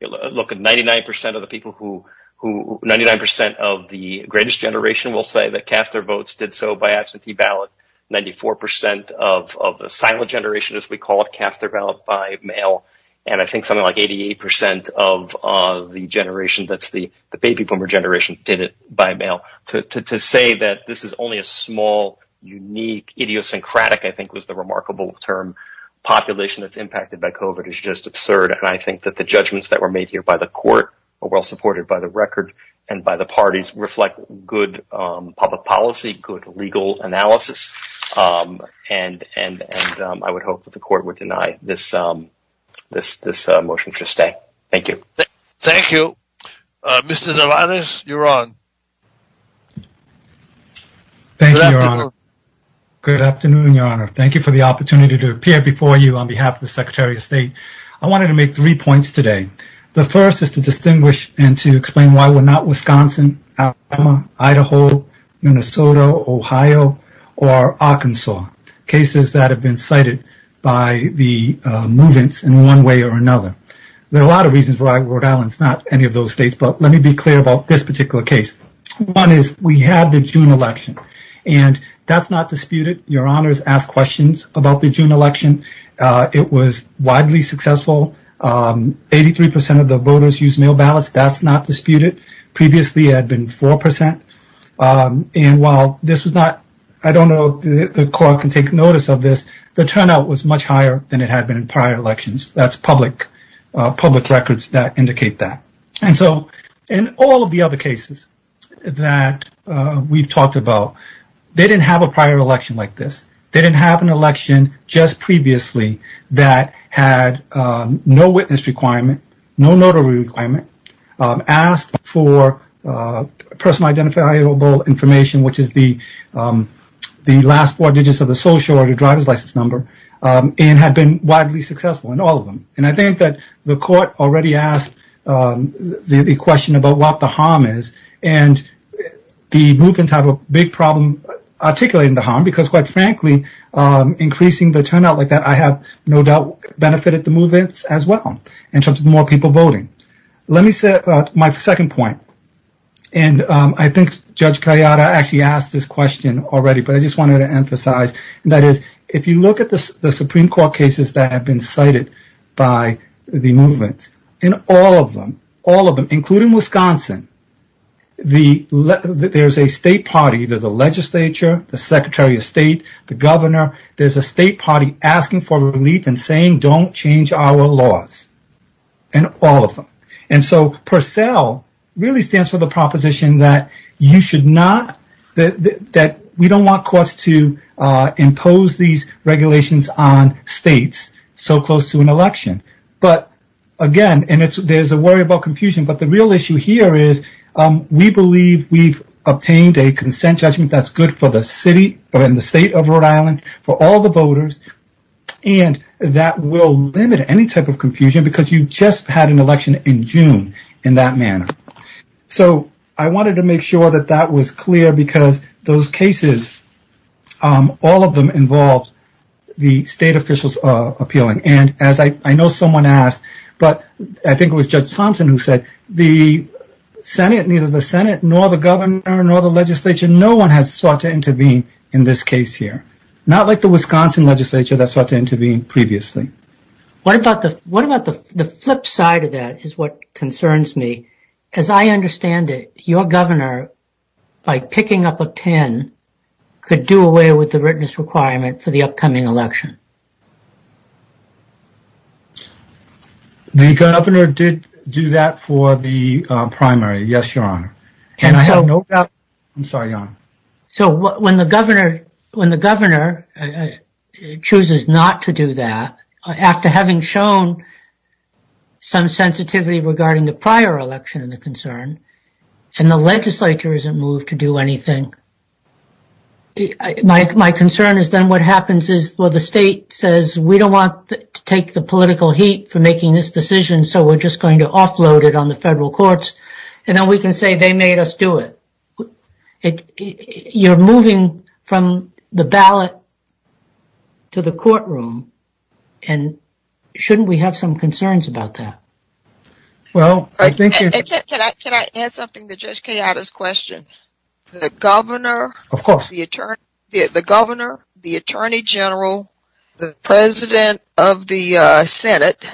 Look at 99% of the people who... 99% of the greatest generation will say that cast their votes, did so by absentee ballot. 94% of the silent generation, as we call it, cast their ballot by mail. And I think something like 88% of the generation that's the baby boomer generation did it by mail. To say that this is only a small, unique, idiosyncratic, I think was the remarkable term, population that's impacted by COVID is just absurd. And I think that the judgments that were made here by the court are well supported by the record and by the parties reflect good public policy, good legal analysis. And I would hope that the court would deny this motion to stay. Thank you. Thank you. Mr. Zaranis, you're on. Thank you, Your Honor. Good afternoon, Your Honor. Thank you for the opportunity to appear before you on behalf of the Secretary of State. I wanted to make three points today. The first is to distinguish and to explain why we're not Wisconsin, Alabama, Idaho, Minnesota, Ohio, or Arkansas. Cases that have been cited by the movements in one way or another. There are a lot of reasons why Rhode Island is not any of those states, but let me be clear about this particular case. One is we have the June election and that's not disputed. Your Honor has asked questions about the June election. It was widely successful. 83% of the voters used mail ballots. That's not disputed. Previously, it had been 4%. And while this was not, I don't know if the court can take notice of this, the turnout was much higher than it had been in prior elections. That's public records that indicate that. And so in all of the other cases that we've talked about, they didn't have a prior election like this. They didn't have an election just previously that had no witness requirement, no notary requirement, asked for personal identifiable information, which is the last four digits of the social or the driver's license number, and had been widely successful in all of them. And I think that the court already asked the question about what the harm is and the movements have a big problem articulating the harm because quite frankly, increasing the turnout like that, I have no doubt benefited the movements as well in terms of more people voting. Let me say my second point. And I think Judge Carriota actually asked this question already, but I just wanted to emphasize, and that is if you look at the Supreme Court cases that have been cited by the movement, in all of them, all of them, including Wisconsin, there's a state party, there's a legislature, the Secretary of State, the governor, there's a state party asking for relief and saying, don't change our laws in all of them. And so PURCELL really stands for the proposition that you should not, that we don't want courts to impose these regulations on states so close to an election. But again, and there's a worry about confusion, but the real issue here is we believe we've obtained a consent judgment that's good for the city, but in the state of Rhode Island, for all the voters, and that will limit any type of confusion because you just had an election in June in that manner. So I wanted to make sure that that was clear because those cases, all of them involved the state officials appealing. And as I know someone asked, but I think it was Judge Thompson who said, the Senate, neither the Senate nor the governor nor the legislature, no one has sought to intervene in this case here. Not like the Wisconsin legislature that sought to intervene previously. What about the flip side of that is what concerns me because I understand that your governor by picking up a 10 could do away with the readiness requirement for the upcoming election. The governor did do that for the primary. Yes, your honor. And I have no doubt, I'm sorry, your honor. So when the governor chooses not to do that, after having shown some sensitivity regarding the prior election and the concern, and the legislature isn't moved to do anything, well, the state is not going to do anything. We don't want to take the political heat for making this decision. So we're just going to offload it on the federal courts. And then we can say they made us do it. You're moving from the ballot to the courtroom. And shouldn't we have some concerns about that? Well, I think- Can I add something to Judge Kayada's question? The governor- Of course. The governor, the attorney general, the president of the Senate,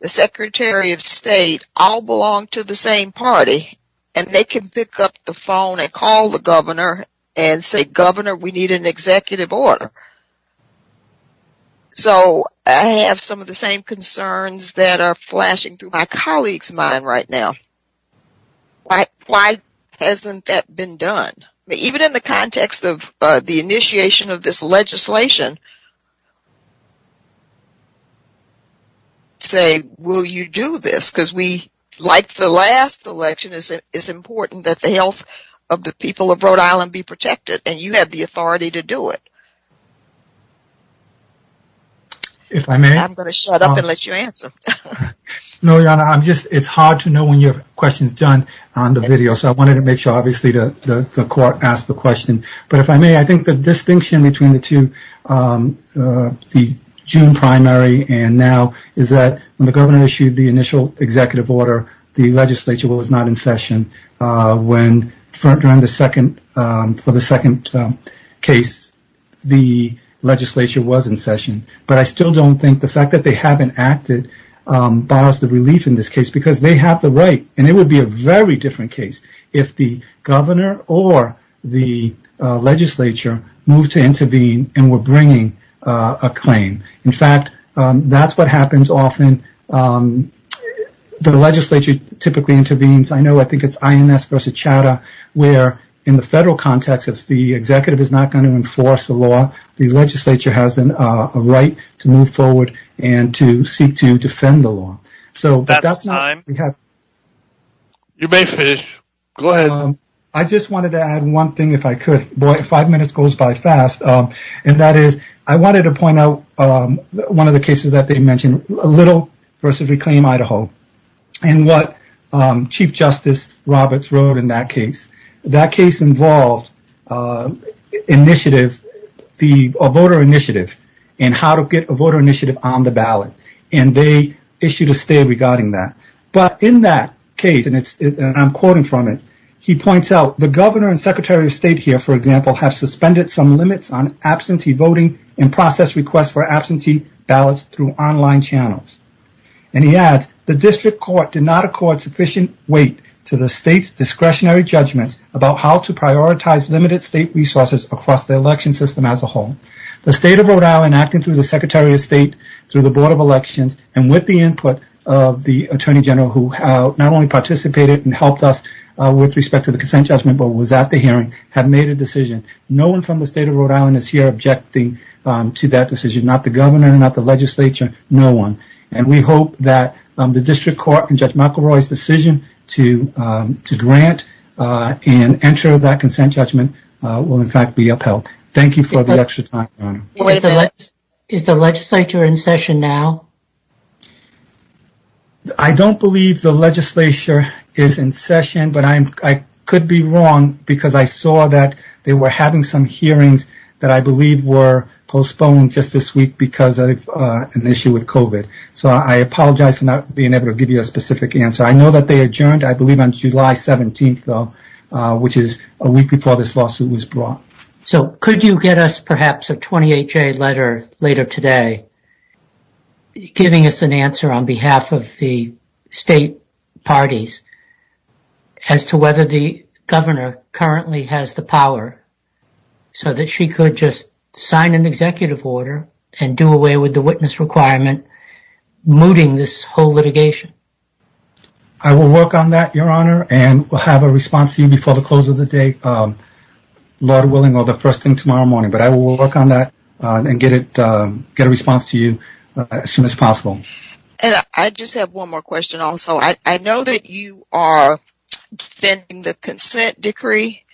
the secretary of state all belong to the same party. And they can pick up the phone and call the governor and say, governor, we need an executive order. So I have some of the same concerns that are flashing through my colleague's mind right now. Why hasn't that been done? Even in the context of the initiation of this legislation, say, will you do this? Because like the last election, it's important that the health of the people of Rhode Island be protected, and you have the authority to do it. If I may- I'm going to shut up and let you answer. No, Your Honor, it's hard to know when your question's done on the video. So I wanted to make sure, obviously, that the court asked the question. But if I may, I think the distinction between the two, the June primary and now, is that when the governor issued the initial executive order, the legislature was not in session for the second case. The legislature was in session. But I still don't think the fact that they haven't acted bars the relief in this case because they have the right. And it would be a very different case if the governor or the legislature moved to intervene and were bringing a claim. In fact, that's what happens often. The legislature typically intervenes. I know, I think it's INS versus Chadha, where in the federal context, the executive is not going to enforce the law. The legislature has a right to move forward and to seek to defend the law. So that's not- That's time. You may finish. Go ahead. I just wanted to add one thing, if I could. Boy, five minutes goes by fast. And that is, I wanted to point out one of the cases that they mentioned, Little versus Reclaim Idaho. And what Chief Justice Roberts wrote in that case. That case involves initiative, the voter initiative, and how to get a voter initiative on the ballot. And they issued a state regarding that. But in that case, and I'm quoting from it, he points out, the governor and secretary of state here, for example, have suspended some limits on absentee voting and process requests for absentee ballots through online channels. And he adds, the district court did not accord sufficient weight to the state's discretionary judgments about how to prioritize limited state resources across the election system as a whole. The state of Rhode Island, acting through the secretary of state, through the board of elections, and with the input of the attorney general, who not only participated and helped us with respect to the consent judgment, but was at the hearing, have made a decision. No one from the state of Rhode Island is here objecting to that decision. Not the government, not the legislature, no one. And we hope that the district court and Judge McElroy's decision to grant and enter that consent judgment will in fact be upheld. Thank you for the extra time. Is the legislature in session now? I don't believe the legislature is in session, but I could be wrong because I saw that they were having some hearings that I believe were postponed just this week because of an issue with COVID. So I apologize for not being able to give you a specific answer. I know that they adjourned, I believe on July 17th though, which is a week before this lawsuit was brought. So could you get us perhaps a 28-J letter later today giving us an answer on behalf of the state parties as to whether the governor currently has the power so that she could just sign an executive order and do away with the witness requirement mooting this whole litigation? I will work on that, Your Honor, and we'll have a response to you before the close of the day. Lord willing or the first thing tomorrow morning, but I will work on that and get a response to you as soon as possible. And I just have one more question also. I know that you are defending the consent decree.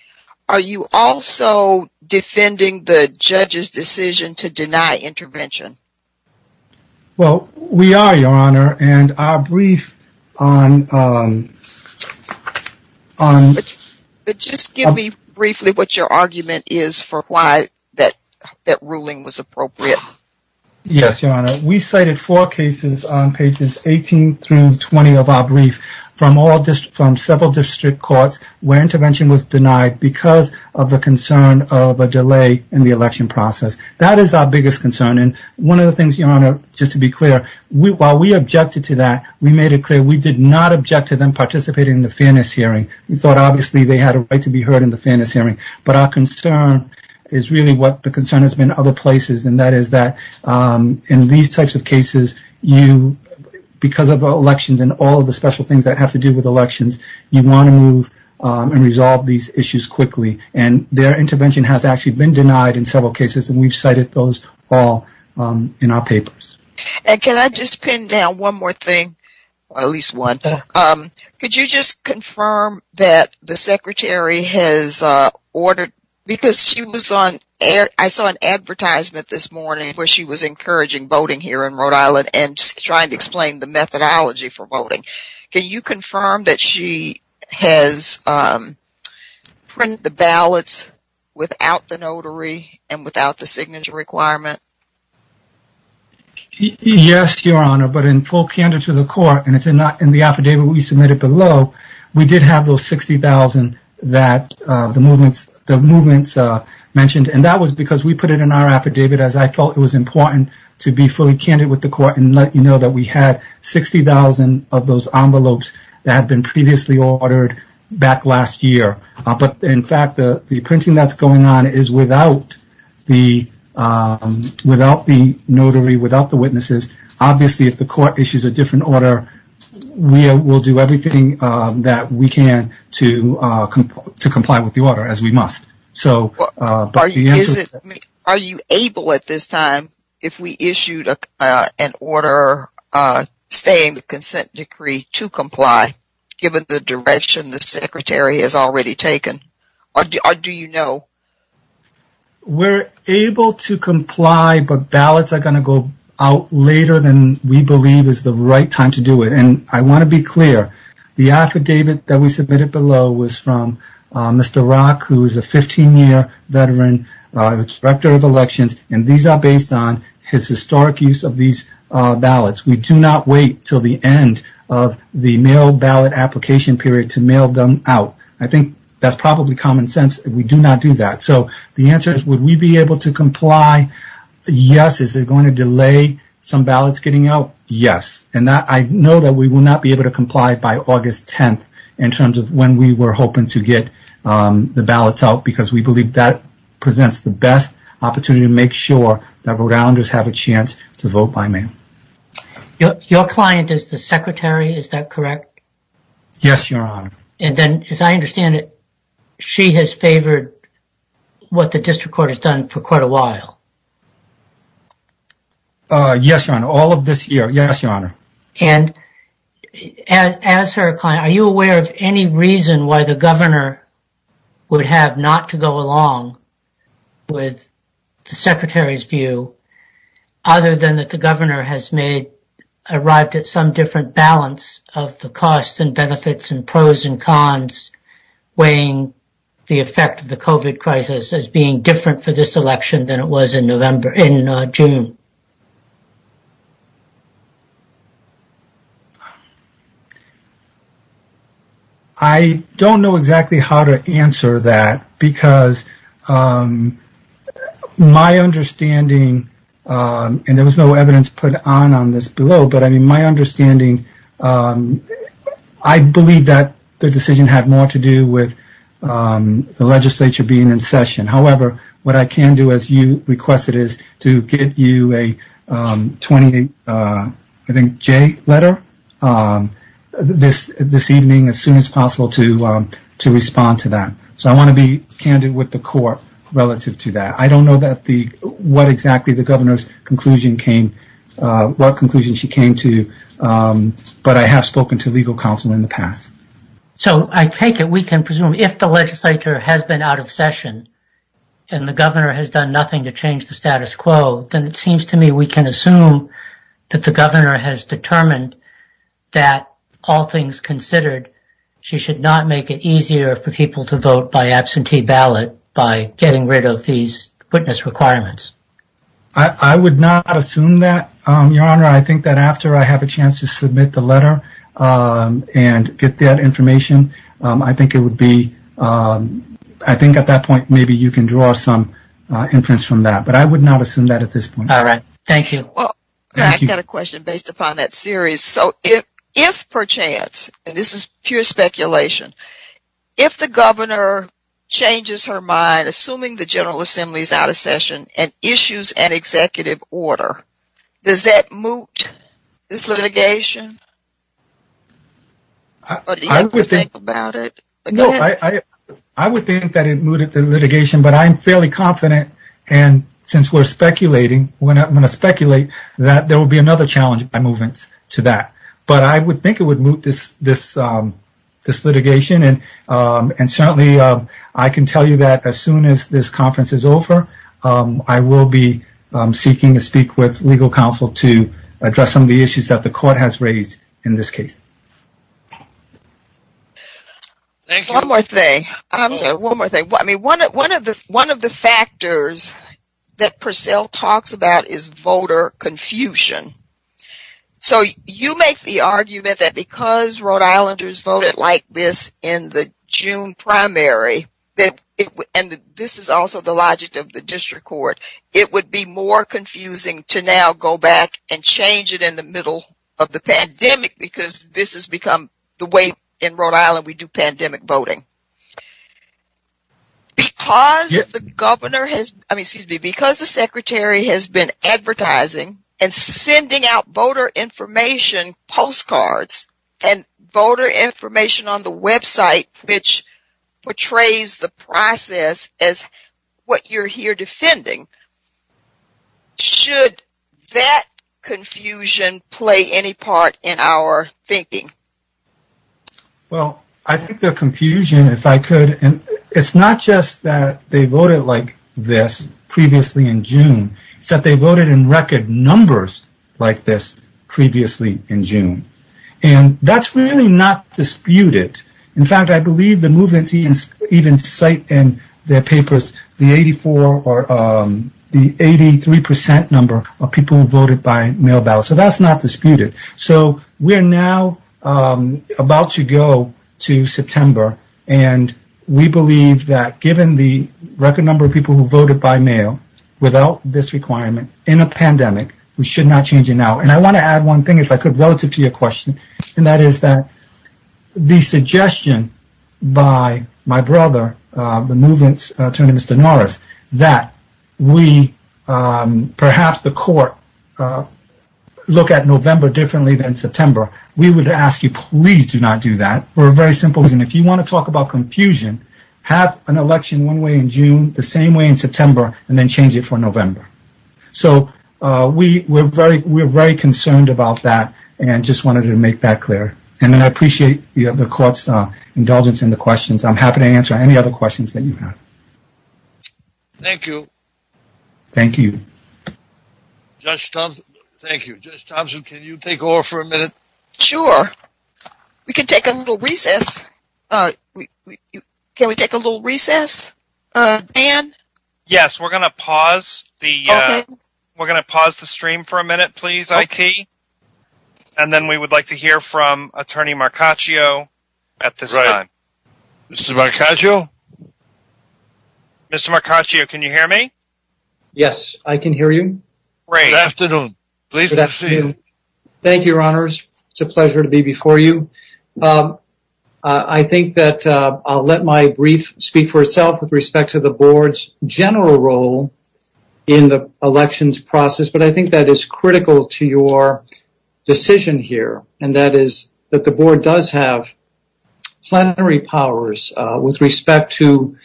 Are you also defending the judge's decision to deny intervention? Well, we are, Your Honor, and our brief on- But just give me briefly what your argument is for why that ruling was appropriate. Yes, Your Honor. We cited four cases on pages 18 through 20 of our brief from several district courts where intervention was denied because of the concern of a delay in the election process. That is our biggest concern. And one of the things, Your Honor, just to be clear, while we objected to that, we made it clear we did not object to them participating in the fairness hearing. We thought, obviously, they had a right to be heard in the fairness hearing. But our concern is really what the concern has been in other places, and that is that in these types of cases, because of elections and all of the special things that have to do with elections, you want to move and resolve these issues quickly. And their intervention has actually been denied in several cases, and we've cited those all in our papers. Can I just pin down one more thing, or at least one? Could you just confirm that the secretary has ordered, because she was on, I saw an advertisement this morning where she was encouraging voting here in Rhode Island and trying to explain the methodology for voting. Can you confirm that she has printed the ballots without the notary and without the signature requirement? Yes, Your Honor, but in full candid to the court, and it's in the affidavit we submitted below, we did have those 60,000 that the movements mentioned, and that was because we put it in our affidavit as I felt it was important to be fully candid with the court and let you know that we had 60,000 of those envelopes that had been previously ordered back last year. But in fact, the printing that's going on is without the notary, without the witnesses. Obviously, if the court issues a different order, we will do everything that we can to comply with the order, as we must. Are you able at this time, if we issued an order saying the consent decree to comply, given the direction the secretary has already taken, or do you know? We're able to comply, but ballots are going to go out later than we believe is the right time to do it. And I want to be clear, the affidavit that we submitted below was from Mr. Rock, who is a 15-year veteran, director of elections, and these are based on his historic use of these ballots. We do not wait till the end of the mail ballot application period to mail them out. I think that's probably common sense. We do not do that. So the answer is would we be able to comply yes, is it going to delay some ballots getting out? Yes. And I know that we will not be able to comply by August 10th in terms of when we were hoping to get the ballots out, because we believe that presents the best opportunity to make sure that Rhode Islanders have a chance to vote by mail. Your client is the secretary, is that correct? Yes, Your Honor. And then, as I understand it, she has favored what the district court has done for quite a while. Yes, Your Honor. All of this year, yes, Your Honor. And as her client, are you aware of any reason why the governor would have not to go along with the secretary's view other than that the governor has made, arrived at some different balance of the costs and benefits and pros and cons weighing the effect of the COVID crisis as being different for this election than it was in June? I don't know exactly how to answer that, because my understanding, and there was no evidence put on on this below, but I mean, my understanding, I believe that the decision had more to do with the legislature being in session. However, what I can do, as you requested, is to give you a 20, I think, J letter this evening as soon as possible to respond to that. So I want to be candid with the court relative to that. I don't know what exactly the governor's conclusion came, what conclusion she came to, but I have spoken to legal counsel in the past. So I take it we can presume if the legislature has been out of session and the governor has done nothing to change the status quo, then it seems to me we can assume that the governor has determined that all things considered, she should not make it easier for people to vote by absentee ballot by getting rid of these witness requirements. I would not assume that, Your Honor. I think that after I have a chance to submit the letter and get that information, I think it would be, I think at that point, maybe you can draw some inference from that, but I would not assume that at this point. All right. Thank you. I've got a question based upon that series. So if, per chance, and this is pure speculation, if the governor changes her mind, assuming the General Assembly is out of session and issues an executive order, does that moot this litigation? Or do you think about it? No, I would think that it mooted the litigation, but I'm fairly confident, and since we're speculating, we're not going to speculate, that there will be another challenge by movement to that. But I would think it would moot this litigation. And certainly, I can tell you that as soon as this conference is over, I will be seeking to speak with legal counsel to address some of the issues that the court has raised in this case. Thank you. One more thing. One more thing. I mean, one of the factors that Purcell talks about is voter confusion. So you make the argument that because Rhode Islanders voted like this in the June primary, and this is also the logic of the district court, it would be more confusing to now go back and change it in the middle of the pandemic, because this has become the way in Rhode Island we do pandemic voting. Because the Secretary has been advertising and sending out voter information, postcards, and voter information on the website, which portrays the process as what you're here defending, should that confusion play any part in our thinking? Well, I think the confusion, if I could, and it's not just that they voted like this previously in June, it's that they voted in record numbers like this previously in June. And that's really not disputed. In fact, I believe the movement teams even cite in their papers the 83% number of people who voted by mail ballot. So that's not disputed. So we're now about to go to September, and we believe that given the record number of people who voted by mail without this requirement in a pandemic, we should not change it now. And I want to add one thing, if I could, relative to your question, and that is that the suggestion by my brother, the movement's attorney, Mr. Norris, that we, perhaps the court, look at November differently than September, we would ask you, please do not do that. We're very simple, and if you want to talk about confusion, have an election one way in June, the same way in September, and then change it for November. So we're very concerned about that, and just wanted to make that clear. And then I appreciate the court's indulgence in the questions. I'm happy to answer any other questions that you have. Thank you. Thank you. Judge Thompson, thank you. Judge Thompson, can you take over for a minute? Sure. We can take a little recess. Can we take a little recess, Dan? Yes, we're going to pause the stream for a minute, please, I.T., and then we would like to hear from Attorney Marcaccio at this time. Mr. Marcaccio? Mr. Marcaccio, can you hear me? Yes, I can hear you. Great. Good afternoon. Pleased to see you. Thank you, Your Honors. It's a pleasure to be before you. I think that I'll let my brief speak for itself with respect to the board's general role in the elections process, but I think that is critical to your decision here, and that is that the board does have plenary powers with respect to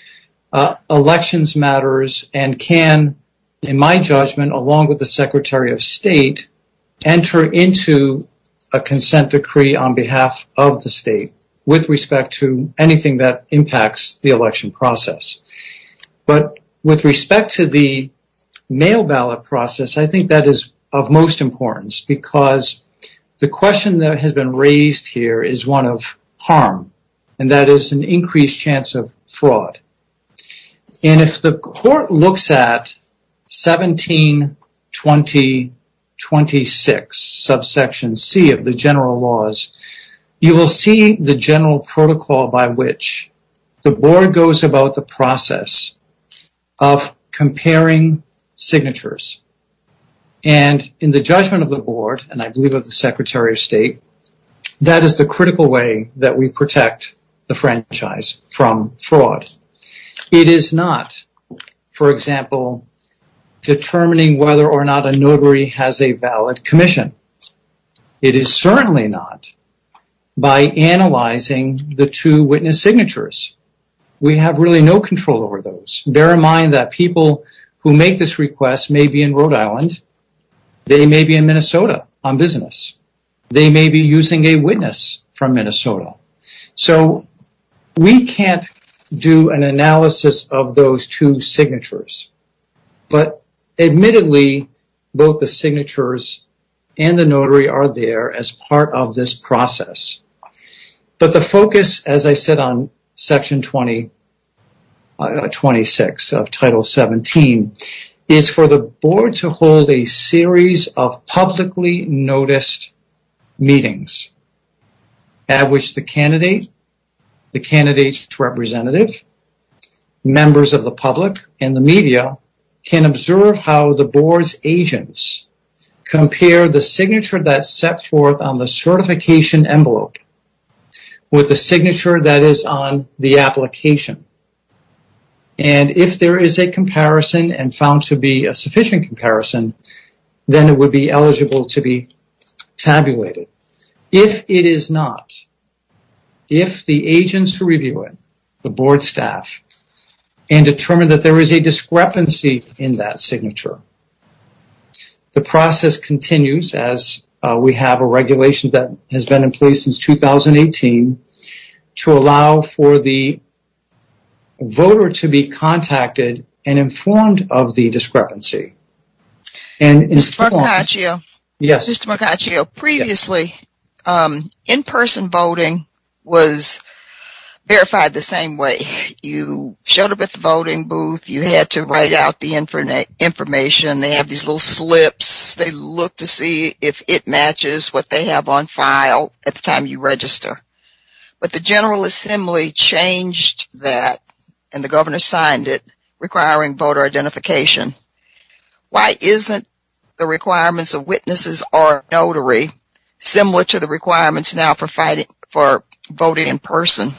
elections matters and can, in my judgment, along with the Secretary of State, enter into a consent decree on behalf of the state with respect to anything that impacts the election process. But with respect to the mail ballot process, I think that is of most importance because the question that has been raised here is one of harm, and that is an increased chance of fraud. And if the court looks at 17-2026, subsection C of the general laws, you will see the general protocol by which the board goes about the process of comparing signatures. And in the judgment of the board, and I believe of the Secretary of State, that is the critical way that we protect the franchise from fraud. It is not, for example, determining whether or not a notary has a valid commission. It is certainly not by analyzing the two witness signatures. We have really no control over those. Bear in mind that people who make this request may be in Rhode Island. They may be in Minnesota on business. They may be using a witness from Minnesota. So we can't do an analysis of those two signatures. But admittedly, both the signatures and the notary are there as part of this process. But the focus, as I said on section 2026 of Title 17, is for the board to hold a series of publicly noticed meetings at which the candidate, the candidate's representative, members of the public, and the media can observe how the board's agents compare the signature that's set forth on the certification envelope with the signature that is on the application. And if there is a comparison and found to be a sufficient comparison, then it would be eligible to be tabulated. If it is not, if the agents who review it, the board staff, and determine that there is a discrepancy in that signature, the process continues as we have a regulation that has been in place since 2018 to allow for the voter to be contacted and informed of the discrepancy. And Mr. Macaccio, previously, in-person voting was verified the same way. You showed up at the voting booth. You had to write out the information. They have these little slips. They look to see if it matches what they have on file at the time you register. But the General Assembly changed that, and the governor signed it, requiring voter identification. Why isn't the requirements of witnesses or notary similar to the requirements now for voting in person?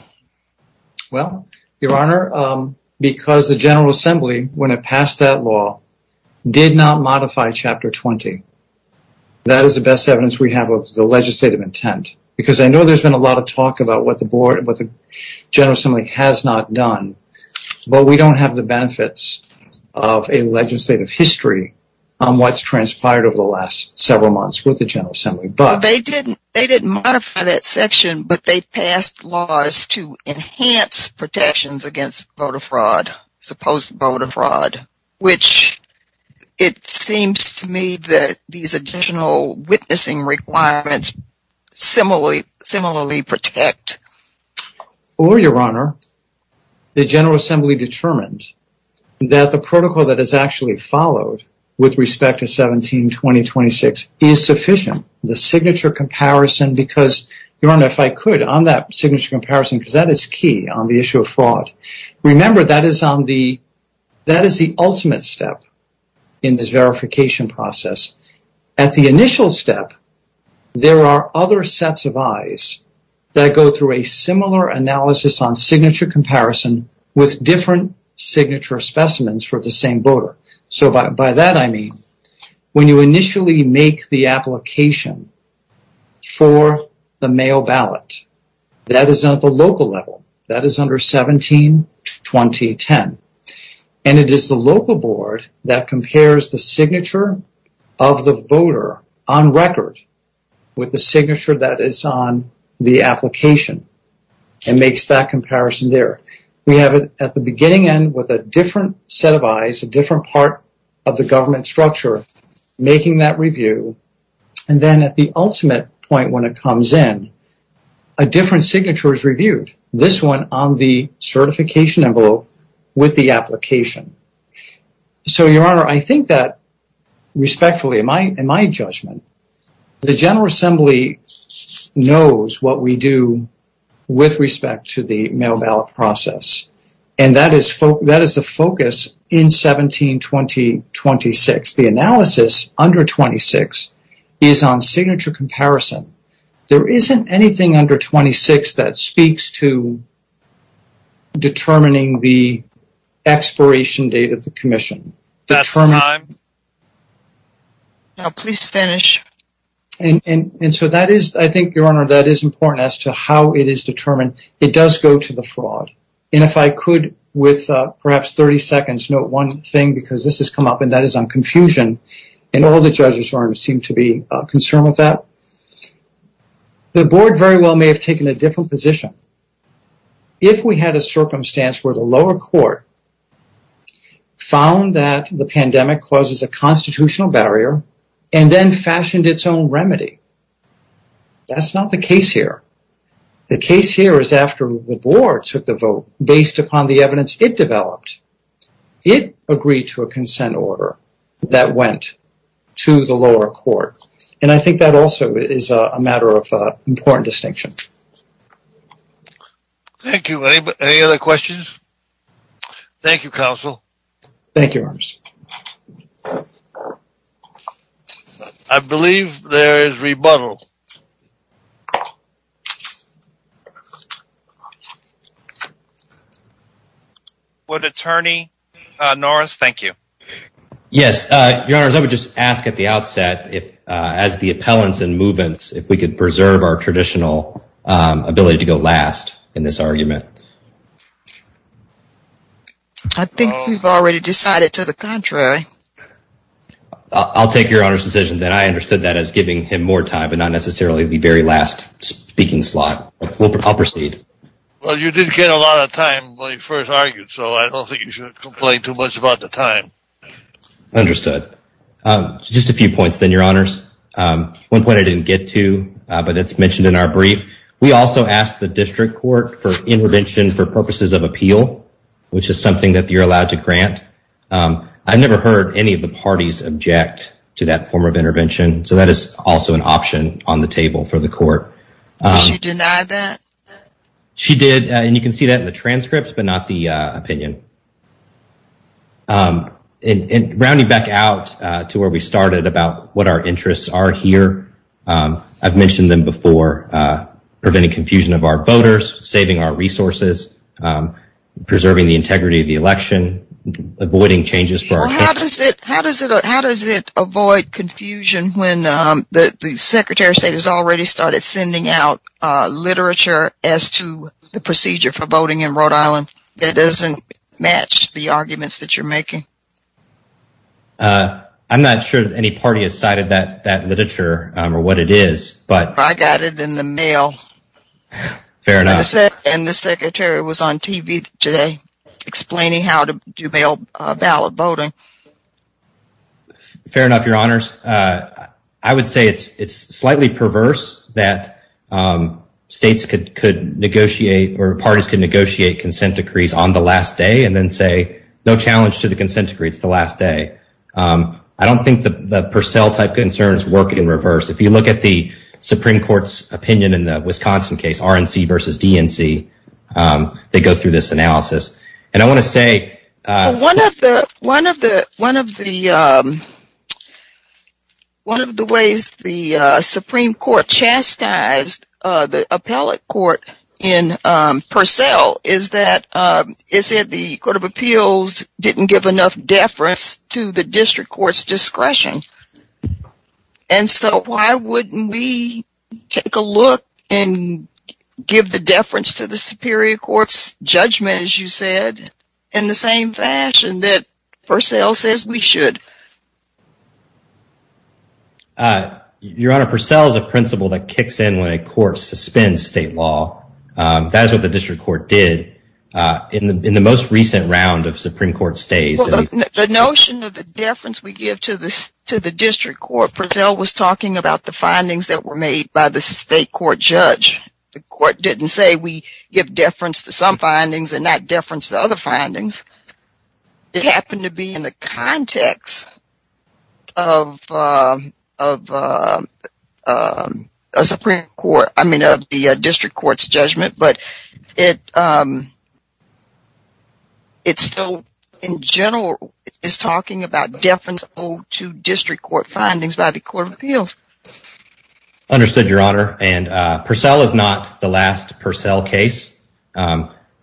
Well, Your Honor, because the General Assembly, when it passed that law, did not modify Chapter 20. That is the best evidence we have of the legislative intent. Because I know there's been a lot of talk about what the board, what the General Assembly has not done, but we don't have the benefits of a legislative history on what's transpired over the last several months with the General Assembly. But they didn't, they didn't modify that section, but they passed laws to enhance protections against voter fraud, supposed voter fraud, which it seems to me that these additional witnessing requirements similarly protect. Or, Your Honor, the General Assembly determined that the protocol that is actually followed with respect to 17-2026 is sufficient. The signature comparison, because, Your Honor, if I could, on that signature comparison, because that is key on the issue of fraud. Remember, that is on the, that is the ultimate step in this verification process. At the initial step, there are other sets of eyes that go through a similar analysis on signature comparison with different signature specimens for the same voter. So by that, I mean, when you initially make the application for the mail ballot, that is at the local level, that is under 17-2010. And it is the local board that compares the signature of the voter on record with the signature that is on the application and makes that comparison there. We have it at the beginning end with a different set of eyes, a different part of the government structure making that review. And then at the ultimate point when it comes in, a different signature is reviewed, this one on the certification envelope with the application. So, Your Honor, I think that, respectfully, in my judgment, the General Assembly knows what we do with respect to the mail ballot process. And that is the focus in 17-2026. The analysis under 26 is on signature comparison. There isn't anything under 26 that speaks to determining the expiration date of the commission. Now, please finish. And so that is, I think, Your Honor, that is important as to how it is determined. It does go to the fraud. And if I could, with perhaps 30 seconds, note one thing, because this has come up, and that is on confusion, and all the judges seem to be concerned with that. The board very well may have taken a different position if we had a circumstance where the lower court found that the pandemic causes a constitutional barrier and then fashioned its own remedy. That's not the case here. The case here is after the board took the vote based upon the evidence it developed. It agreed to a consent order that went to the lower court. And I think that also is a matter of important distinction. Thank you. Any other questions? Thank you, counsel. Thank you, Your Honor. I believe there is rebuttal. Would attorney Norris, thank you. Yes. Your Honor, I would just ask at the outset, as the appellants and movements, if we could preserve our traditional ability to go last in this argument. I think we've already decided to the contrary. I'll take Your Honor's decision that I understood that as giving him more time not necessarily the very last speaking slot. Well, you did get a lot of time when you first argued, so I don't think you should complain too much about the time. Understood. Just a few points then, Your Honors. One point I didn't get to, but it's mentioned in our brief. We also asked the district court for intervention for purposes of appeal, which is something that you're allowed to grant. I've never heard any of the parties object to that form of intervention. That is also an option on the table for the court. She denied that? She did. You can see that in the transcripts, but not the opinion. Rounding back out to where we started about what our interests are here, I've mentioned them before. Preventing confusion of our voters, saving our resources, preserving the integrity of the election, avoiding changes. How does it avoid confusion when the Secretary of State has already started sending out literature as to the procedure for voting in Rhode Island that doesn't match the arguments that you're making? I'm not sure any party has cited that literature or what it is, but... I got it in the mail. Fair enough. And the Secretary was on TV today explaining how to do mail ballot voting. Fair enough, Your Honors. I would say it's slightly perverse that states could negotiate or parties can negotiate consent decrees on the last day and then say, no challenge to the consent decree for the last day. I don't think the Purcell type concerns work in reverse. If you look at the Supreme Court's opinion in the Wisconsin case, RNC versus DNC, they go through this analysis. And I want to say... One of the ways the Supreme Court chastised the appellate court in Purcell is that it said the Court of Appeals didn't give enough deference to the district court's discretion. And so why wouldn't we take a look and give the deference to the Superior Court's judgment, as you said, in the same fashion that Purcell says we should? Your Honor, Purcell is a principle that kicks in when a court suspends state law. That's what the district court did in the most recent round of Supreme Court stays. The notion of the deference we give to the district court, Purcell was talking about the findings that were made by the state court judge. The court didn't say we give deference to some findings and not deference to other findings. It happened to be in the context of the district court's judgment. But it still, in general, is talking about deference to district court findings by the Court of Appeals. Understood, Your Honor. And Purcell is not the last Purcell case.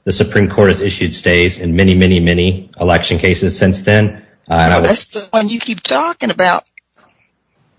The Supreme Court has issued stays in many, many, many election cases since then. That's the one you keep talking about.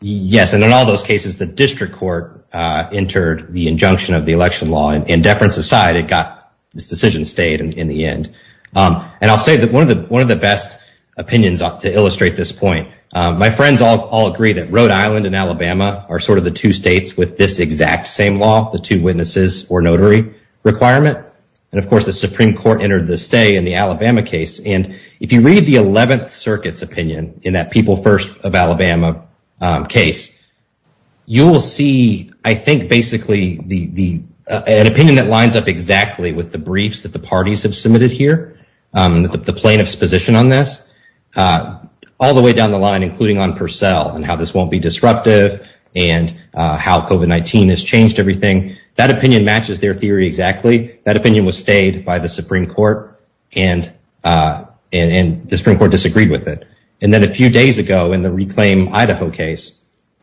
Yes. And in all those cases, the district court entered the injunction of the election law and deference aside, it got this decision stayed in the end. And I'll say that one of the best opinions to illustrate this point, my friends all agree that Rhode Island and Alabama are sort of the two states with this exact same law, the two witnesses or notary requirement. And of course, the Supreme Court entered the stay in the Alabama case. And if you read the 11th Circuit's opinion in that People First of Alabama case, you will see, I think, basically, an opinion that lines up exactly with the briefs that the parties have submitted here, the plaintiff's position on this, all the way down the line, including on Purcell and how this won't be disruptive and how COVID-19 has changed everything. That opinion matches their theory exactly. That opinion was stayed by the Supreme Court and the Supreme Court disagreed with it. And then a few days ago, in the Reclaim Idaho case,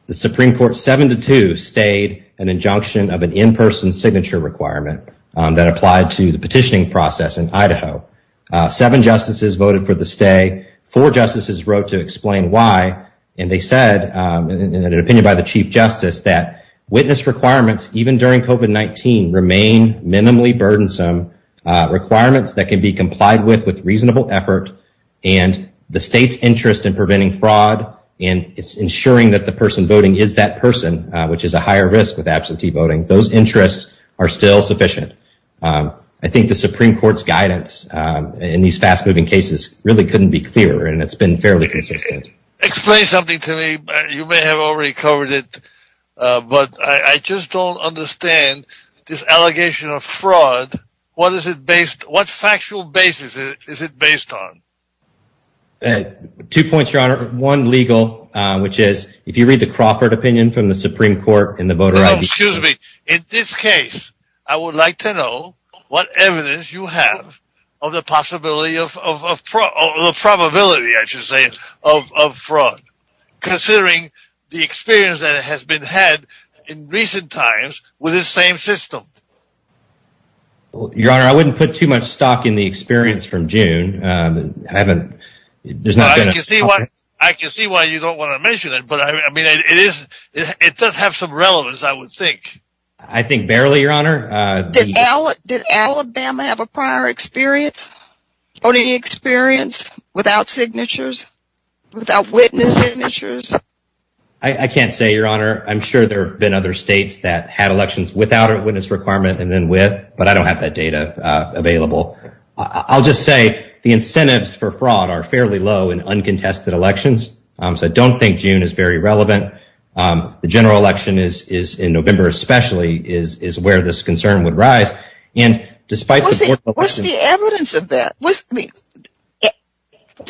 the Supreme Court 7-2 stayed an injunction of an in-person signature requirement that applied to the petitioning process in Idaho. Seven justices voted for the stay. Four justices wrote to explain why. And they said, in an opinion by the Chief Justice, that witness requirements, even during COVID-19, remain minimally burdensome, requirements that can be complied with, with reasonable effort. And the state's interest in preventing fraud and ensuring that the person voting is that person, which is a higher risk of absentee voting, those interests are still sufficient. I think the Supreme Court's guidance in these fast-moving cases really couldn't be clearer, and it's been fairly consistent. Explain something to me. You may have already covered it, but I just don't understand this allegation of fraud. What is it based... What factual basis is it based on? Two points, Your Honor. One, legal, which is, if you read the Crawford opinion from the Supreme Court and the voter... Well, excuse me. In this case, I would like to know what evidence you have of the possibility of... the probability, I should say, of fraud, considering the experience that has been had in recent times with this same system. Your Honor, I wouldn't put too much stock in the experience from June. I can see why you don't want to mention it, but I mean, it does have some relevance, I would think. I think barely, Your Honor. Did Alabama have a prior experience, voting experience, without signatures, without witness signatures? I can't say, Your Honor. I'm sure there have been other states that had elections without a witness requirement and then with, but I don't have that data available. I'll just say the incentives for fraud are fairly low in uncontested elections, so I don't think June is very relevant. The general election is, in November especially, is where this concern would rise. And despite... What's the evidence of that? What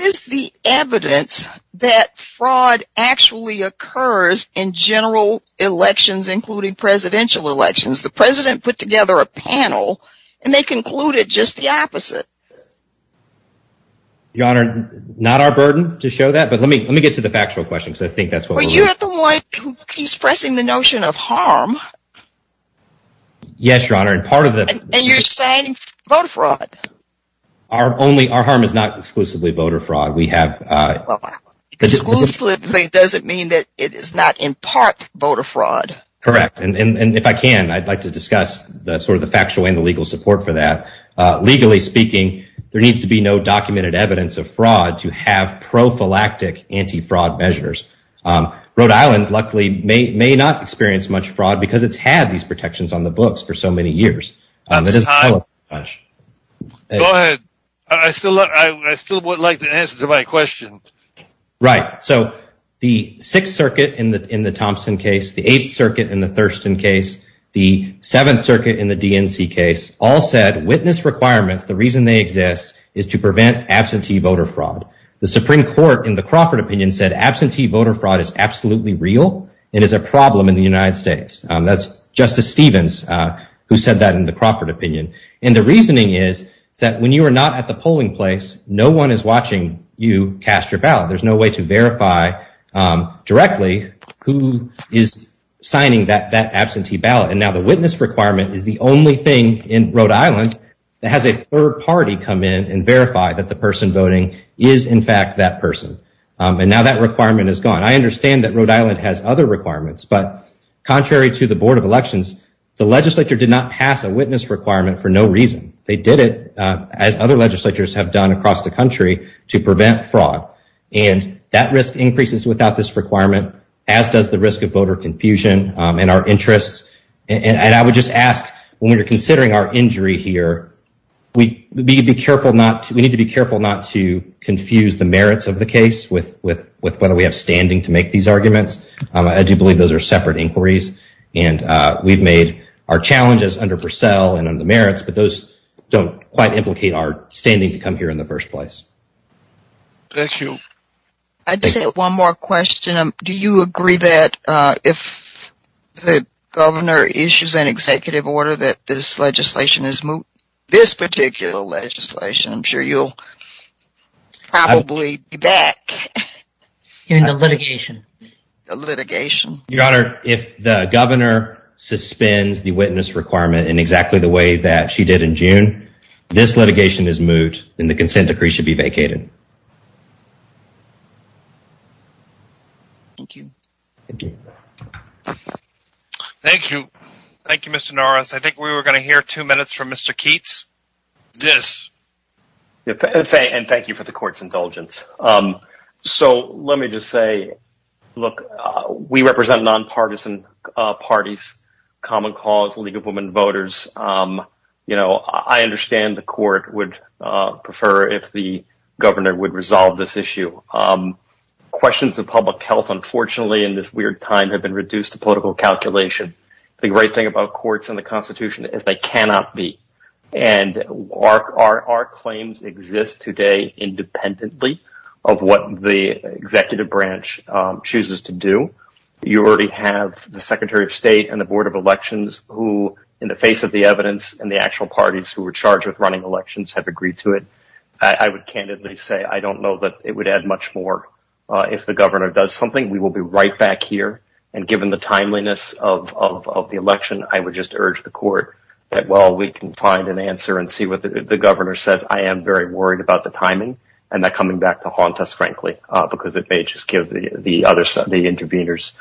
is the evidence that fraud actually occurs in general elections, including presidential elections? The president put together a panel and they concluded just the opposite. Your Honor, not our burden to show that, but let me get to the factual question, because I think that's what we're... Well, you're the one who keeps pressing the notion of harm. Yes, Your Honor, and part of the... And you're saying voter fraud. Our only, our harm is not exclusively voter fraud. We have... Exclusively doesn't mean that it is not in part voter fraud. Correct. And if I can, I'd like to discuss the sort of the factual and the legal support for that. Legally speaking, there needs to be no documented evidence of fraud to have prophylactic anti-fraud measures. Rhode Island, luckily, may not experience much fraud because it's had these protections on the books for so many years. Go ahead. I still would like to answer my question. Right. So the Sixth Circuit in the Thompson case, the Eighth Circuit in the Thurston case, the Seventh Circuit in the DNC case, all said witness requirements, the reason they exist is to prevent absentee voter fraud. The Supreme Court, in the Crawford opinion, said absentee voter fraud is absolutely real and is a problem in the United States. That's Justice Stevens who said that in the Crawford opinion. And the reasoning is that when you are not at the polling place, no one is watching you cast your ballot. There's no way to verify directly who is signing that absentee ballot. And now the witness requirement is the only thing in Rhode Island that has a third party come in and verify that the person voting is, in fact, that person. And now that requirement is gone. I understand that Rhode Island has other requirements, but contrary to the Board of Elections, the legislature did not pass a witness requirement for no reason. They did it, as other legislatures have done across the country, to prevent fraud. And that risk increases without this requirement, as does the risk of voter confusion in our interests. And I would just ask, when we're considering our injury here, we need to be careful not to confuse the merits of the case with whether we have standing to make these arguments. I do believe those are separate inquiries, and we've made our challenges under Purcell and under merits, but those don't quite implicate our standing to come here in the first place. Thank you. I just have one more question. Do you agree that if the governor issues an executive order that this legislation is moved, this particular legislation, I'm sure you'll probably be back in the litigation? The litigation. Your Honor, if the governor suspends the witness requirement in exactly the way that she did in June, this litigation is moved, and the consent decree should be vacated. Thank you. Thank you. Thank you, Mr. Norris. I think we were going to hear two minutes from Mr. Keats. Yes. And thank you for the court's indulgence. So let me just say, look, we represent nonpartisan parties, common cause, League of Women Voters. I understand the court would prefer if the governor would resolve this issue. Questions of public health, unfortunately, in this weird time have been reduced to political calculation. The great thing about courts and the Constitution is they cannot be. And our claims exist today independently of what the executive branch chooses to do. You already have the Secretary of State and the Board of Elections who, in the face of the evidence, and the actual parties who were charged with running elections have agreed to it. I would candidly say, I don't know that it would add much more. If the governor does something, we will be right back here. And given the timeliness of the election, I would just urge the court that while we can find an answer and see what the governor says, I am very worried about the timing and that coming back to haunt us, frankly, because it may just give the other side, the interveners,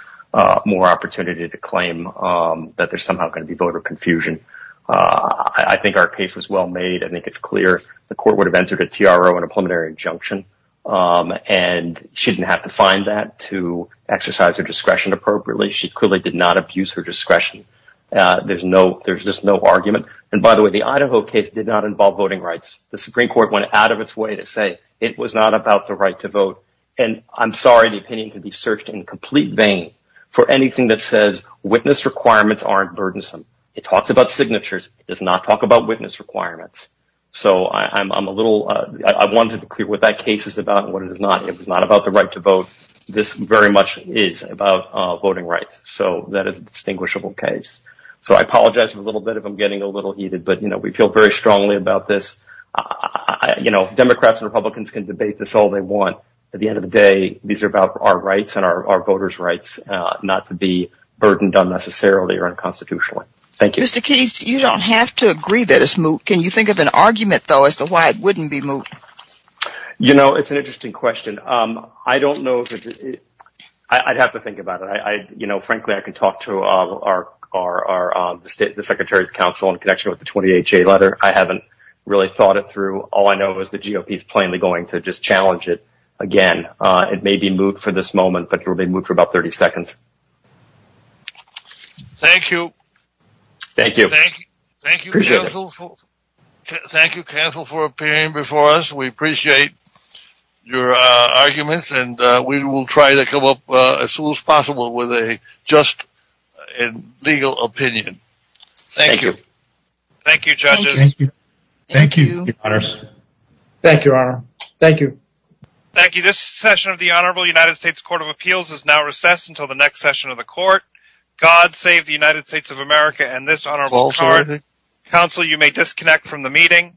more opportunity to claim that there's somehow going to be voter confusion. I think our case was well made. I think it's clear the court would have entered a TRO and a preliminary injunction. And she didn't have to find that to exercise her discretion appropriately. She clearly did not abuse her discretion. There's just no argument. And by the way, the Idaho case did not involve voting rights. The Supreme Court went out of its way to say it was not about the right to vote. And I'm sorry the opinion can be searched in complete vain for anything that says witness requirements aren't burdensome. It talks about signatures. It does not talk about witness requirements. So I'm a little, I wanted to clear what that case is about and what it is not. It's not about the right to vote. This very much is about voting rights. So that is a distinguishable case. So I apologize for a little bit. I'm getting a little heated, but we feel very strongly about this. Democrats and Republicans can debate this all they want. At the end of the day, these are about our rights and our voters' rights not to be burdened unnecessarily or unconstitutionally. Thank you. Mr. Keith, you don't have to agree that it's moot. Can you think of an argument, though, as to why it wouldn't be moot? You know, it's an interesting question. I don't know. I'd have to think about it. You know, frankly, I can talk to our Secretary of Council in connection with the 20HA letter. I haven't really thought it through. All I know is the GOP is plainly going to just challenge it again. It may be moot for this moment, but it may be moot for about 30 seconds. Thank you. Thank you. Thank you, counsel, for appearing before us. We appreciate your arguments, and we will try to come up as soon as possible with a just and legal opinion. Thank you. Thank you, judges. Thank you, Mr. Patterson. Thank you, your honor. Thank you. Thank you. This session of the Honorable United States Court of Appeals is now recessed until the next session of the court. God save the United States of America and this honorable counsel. You may disconnect from the meeting.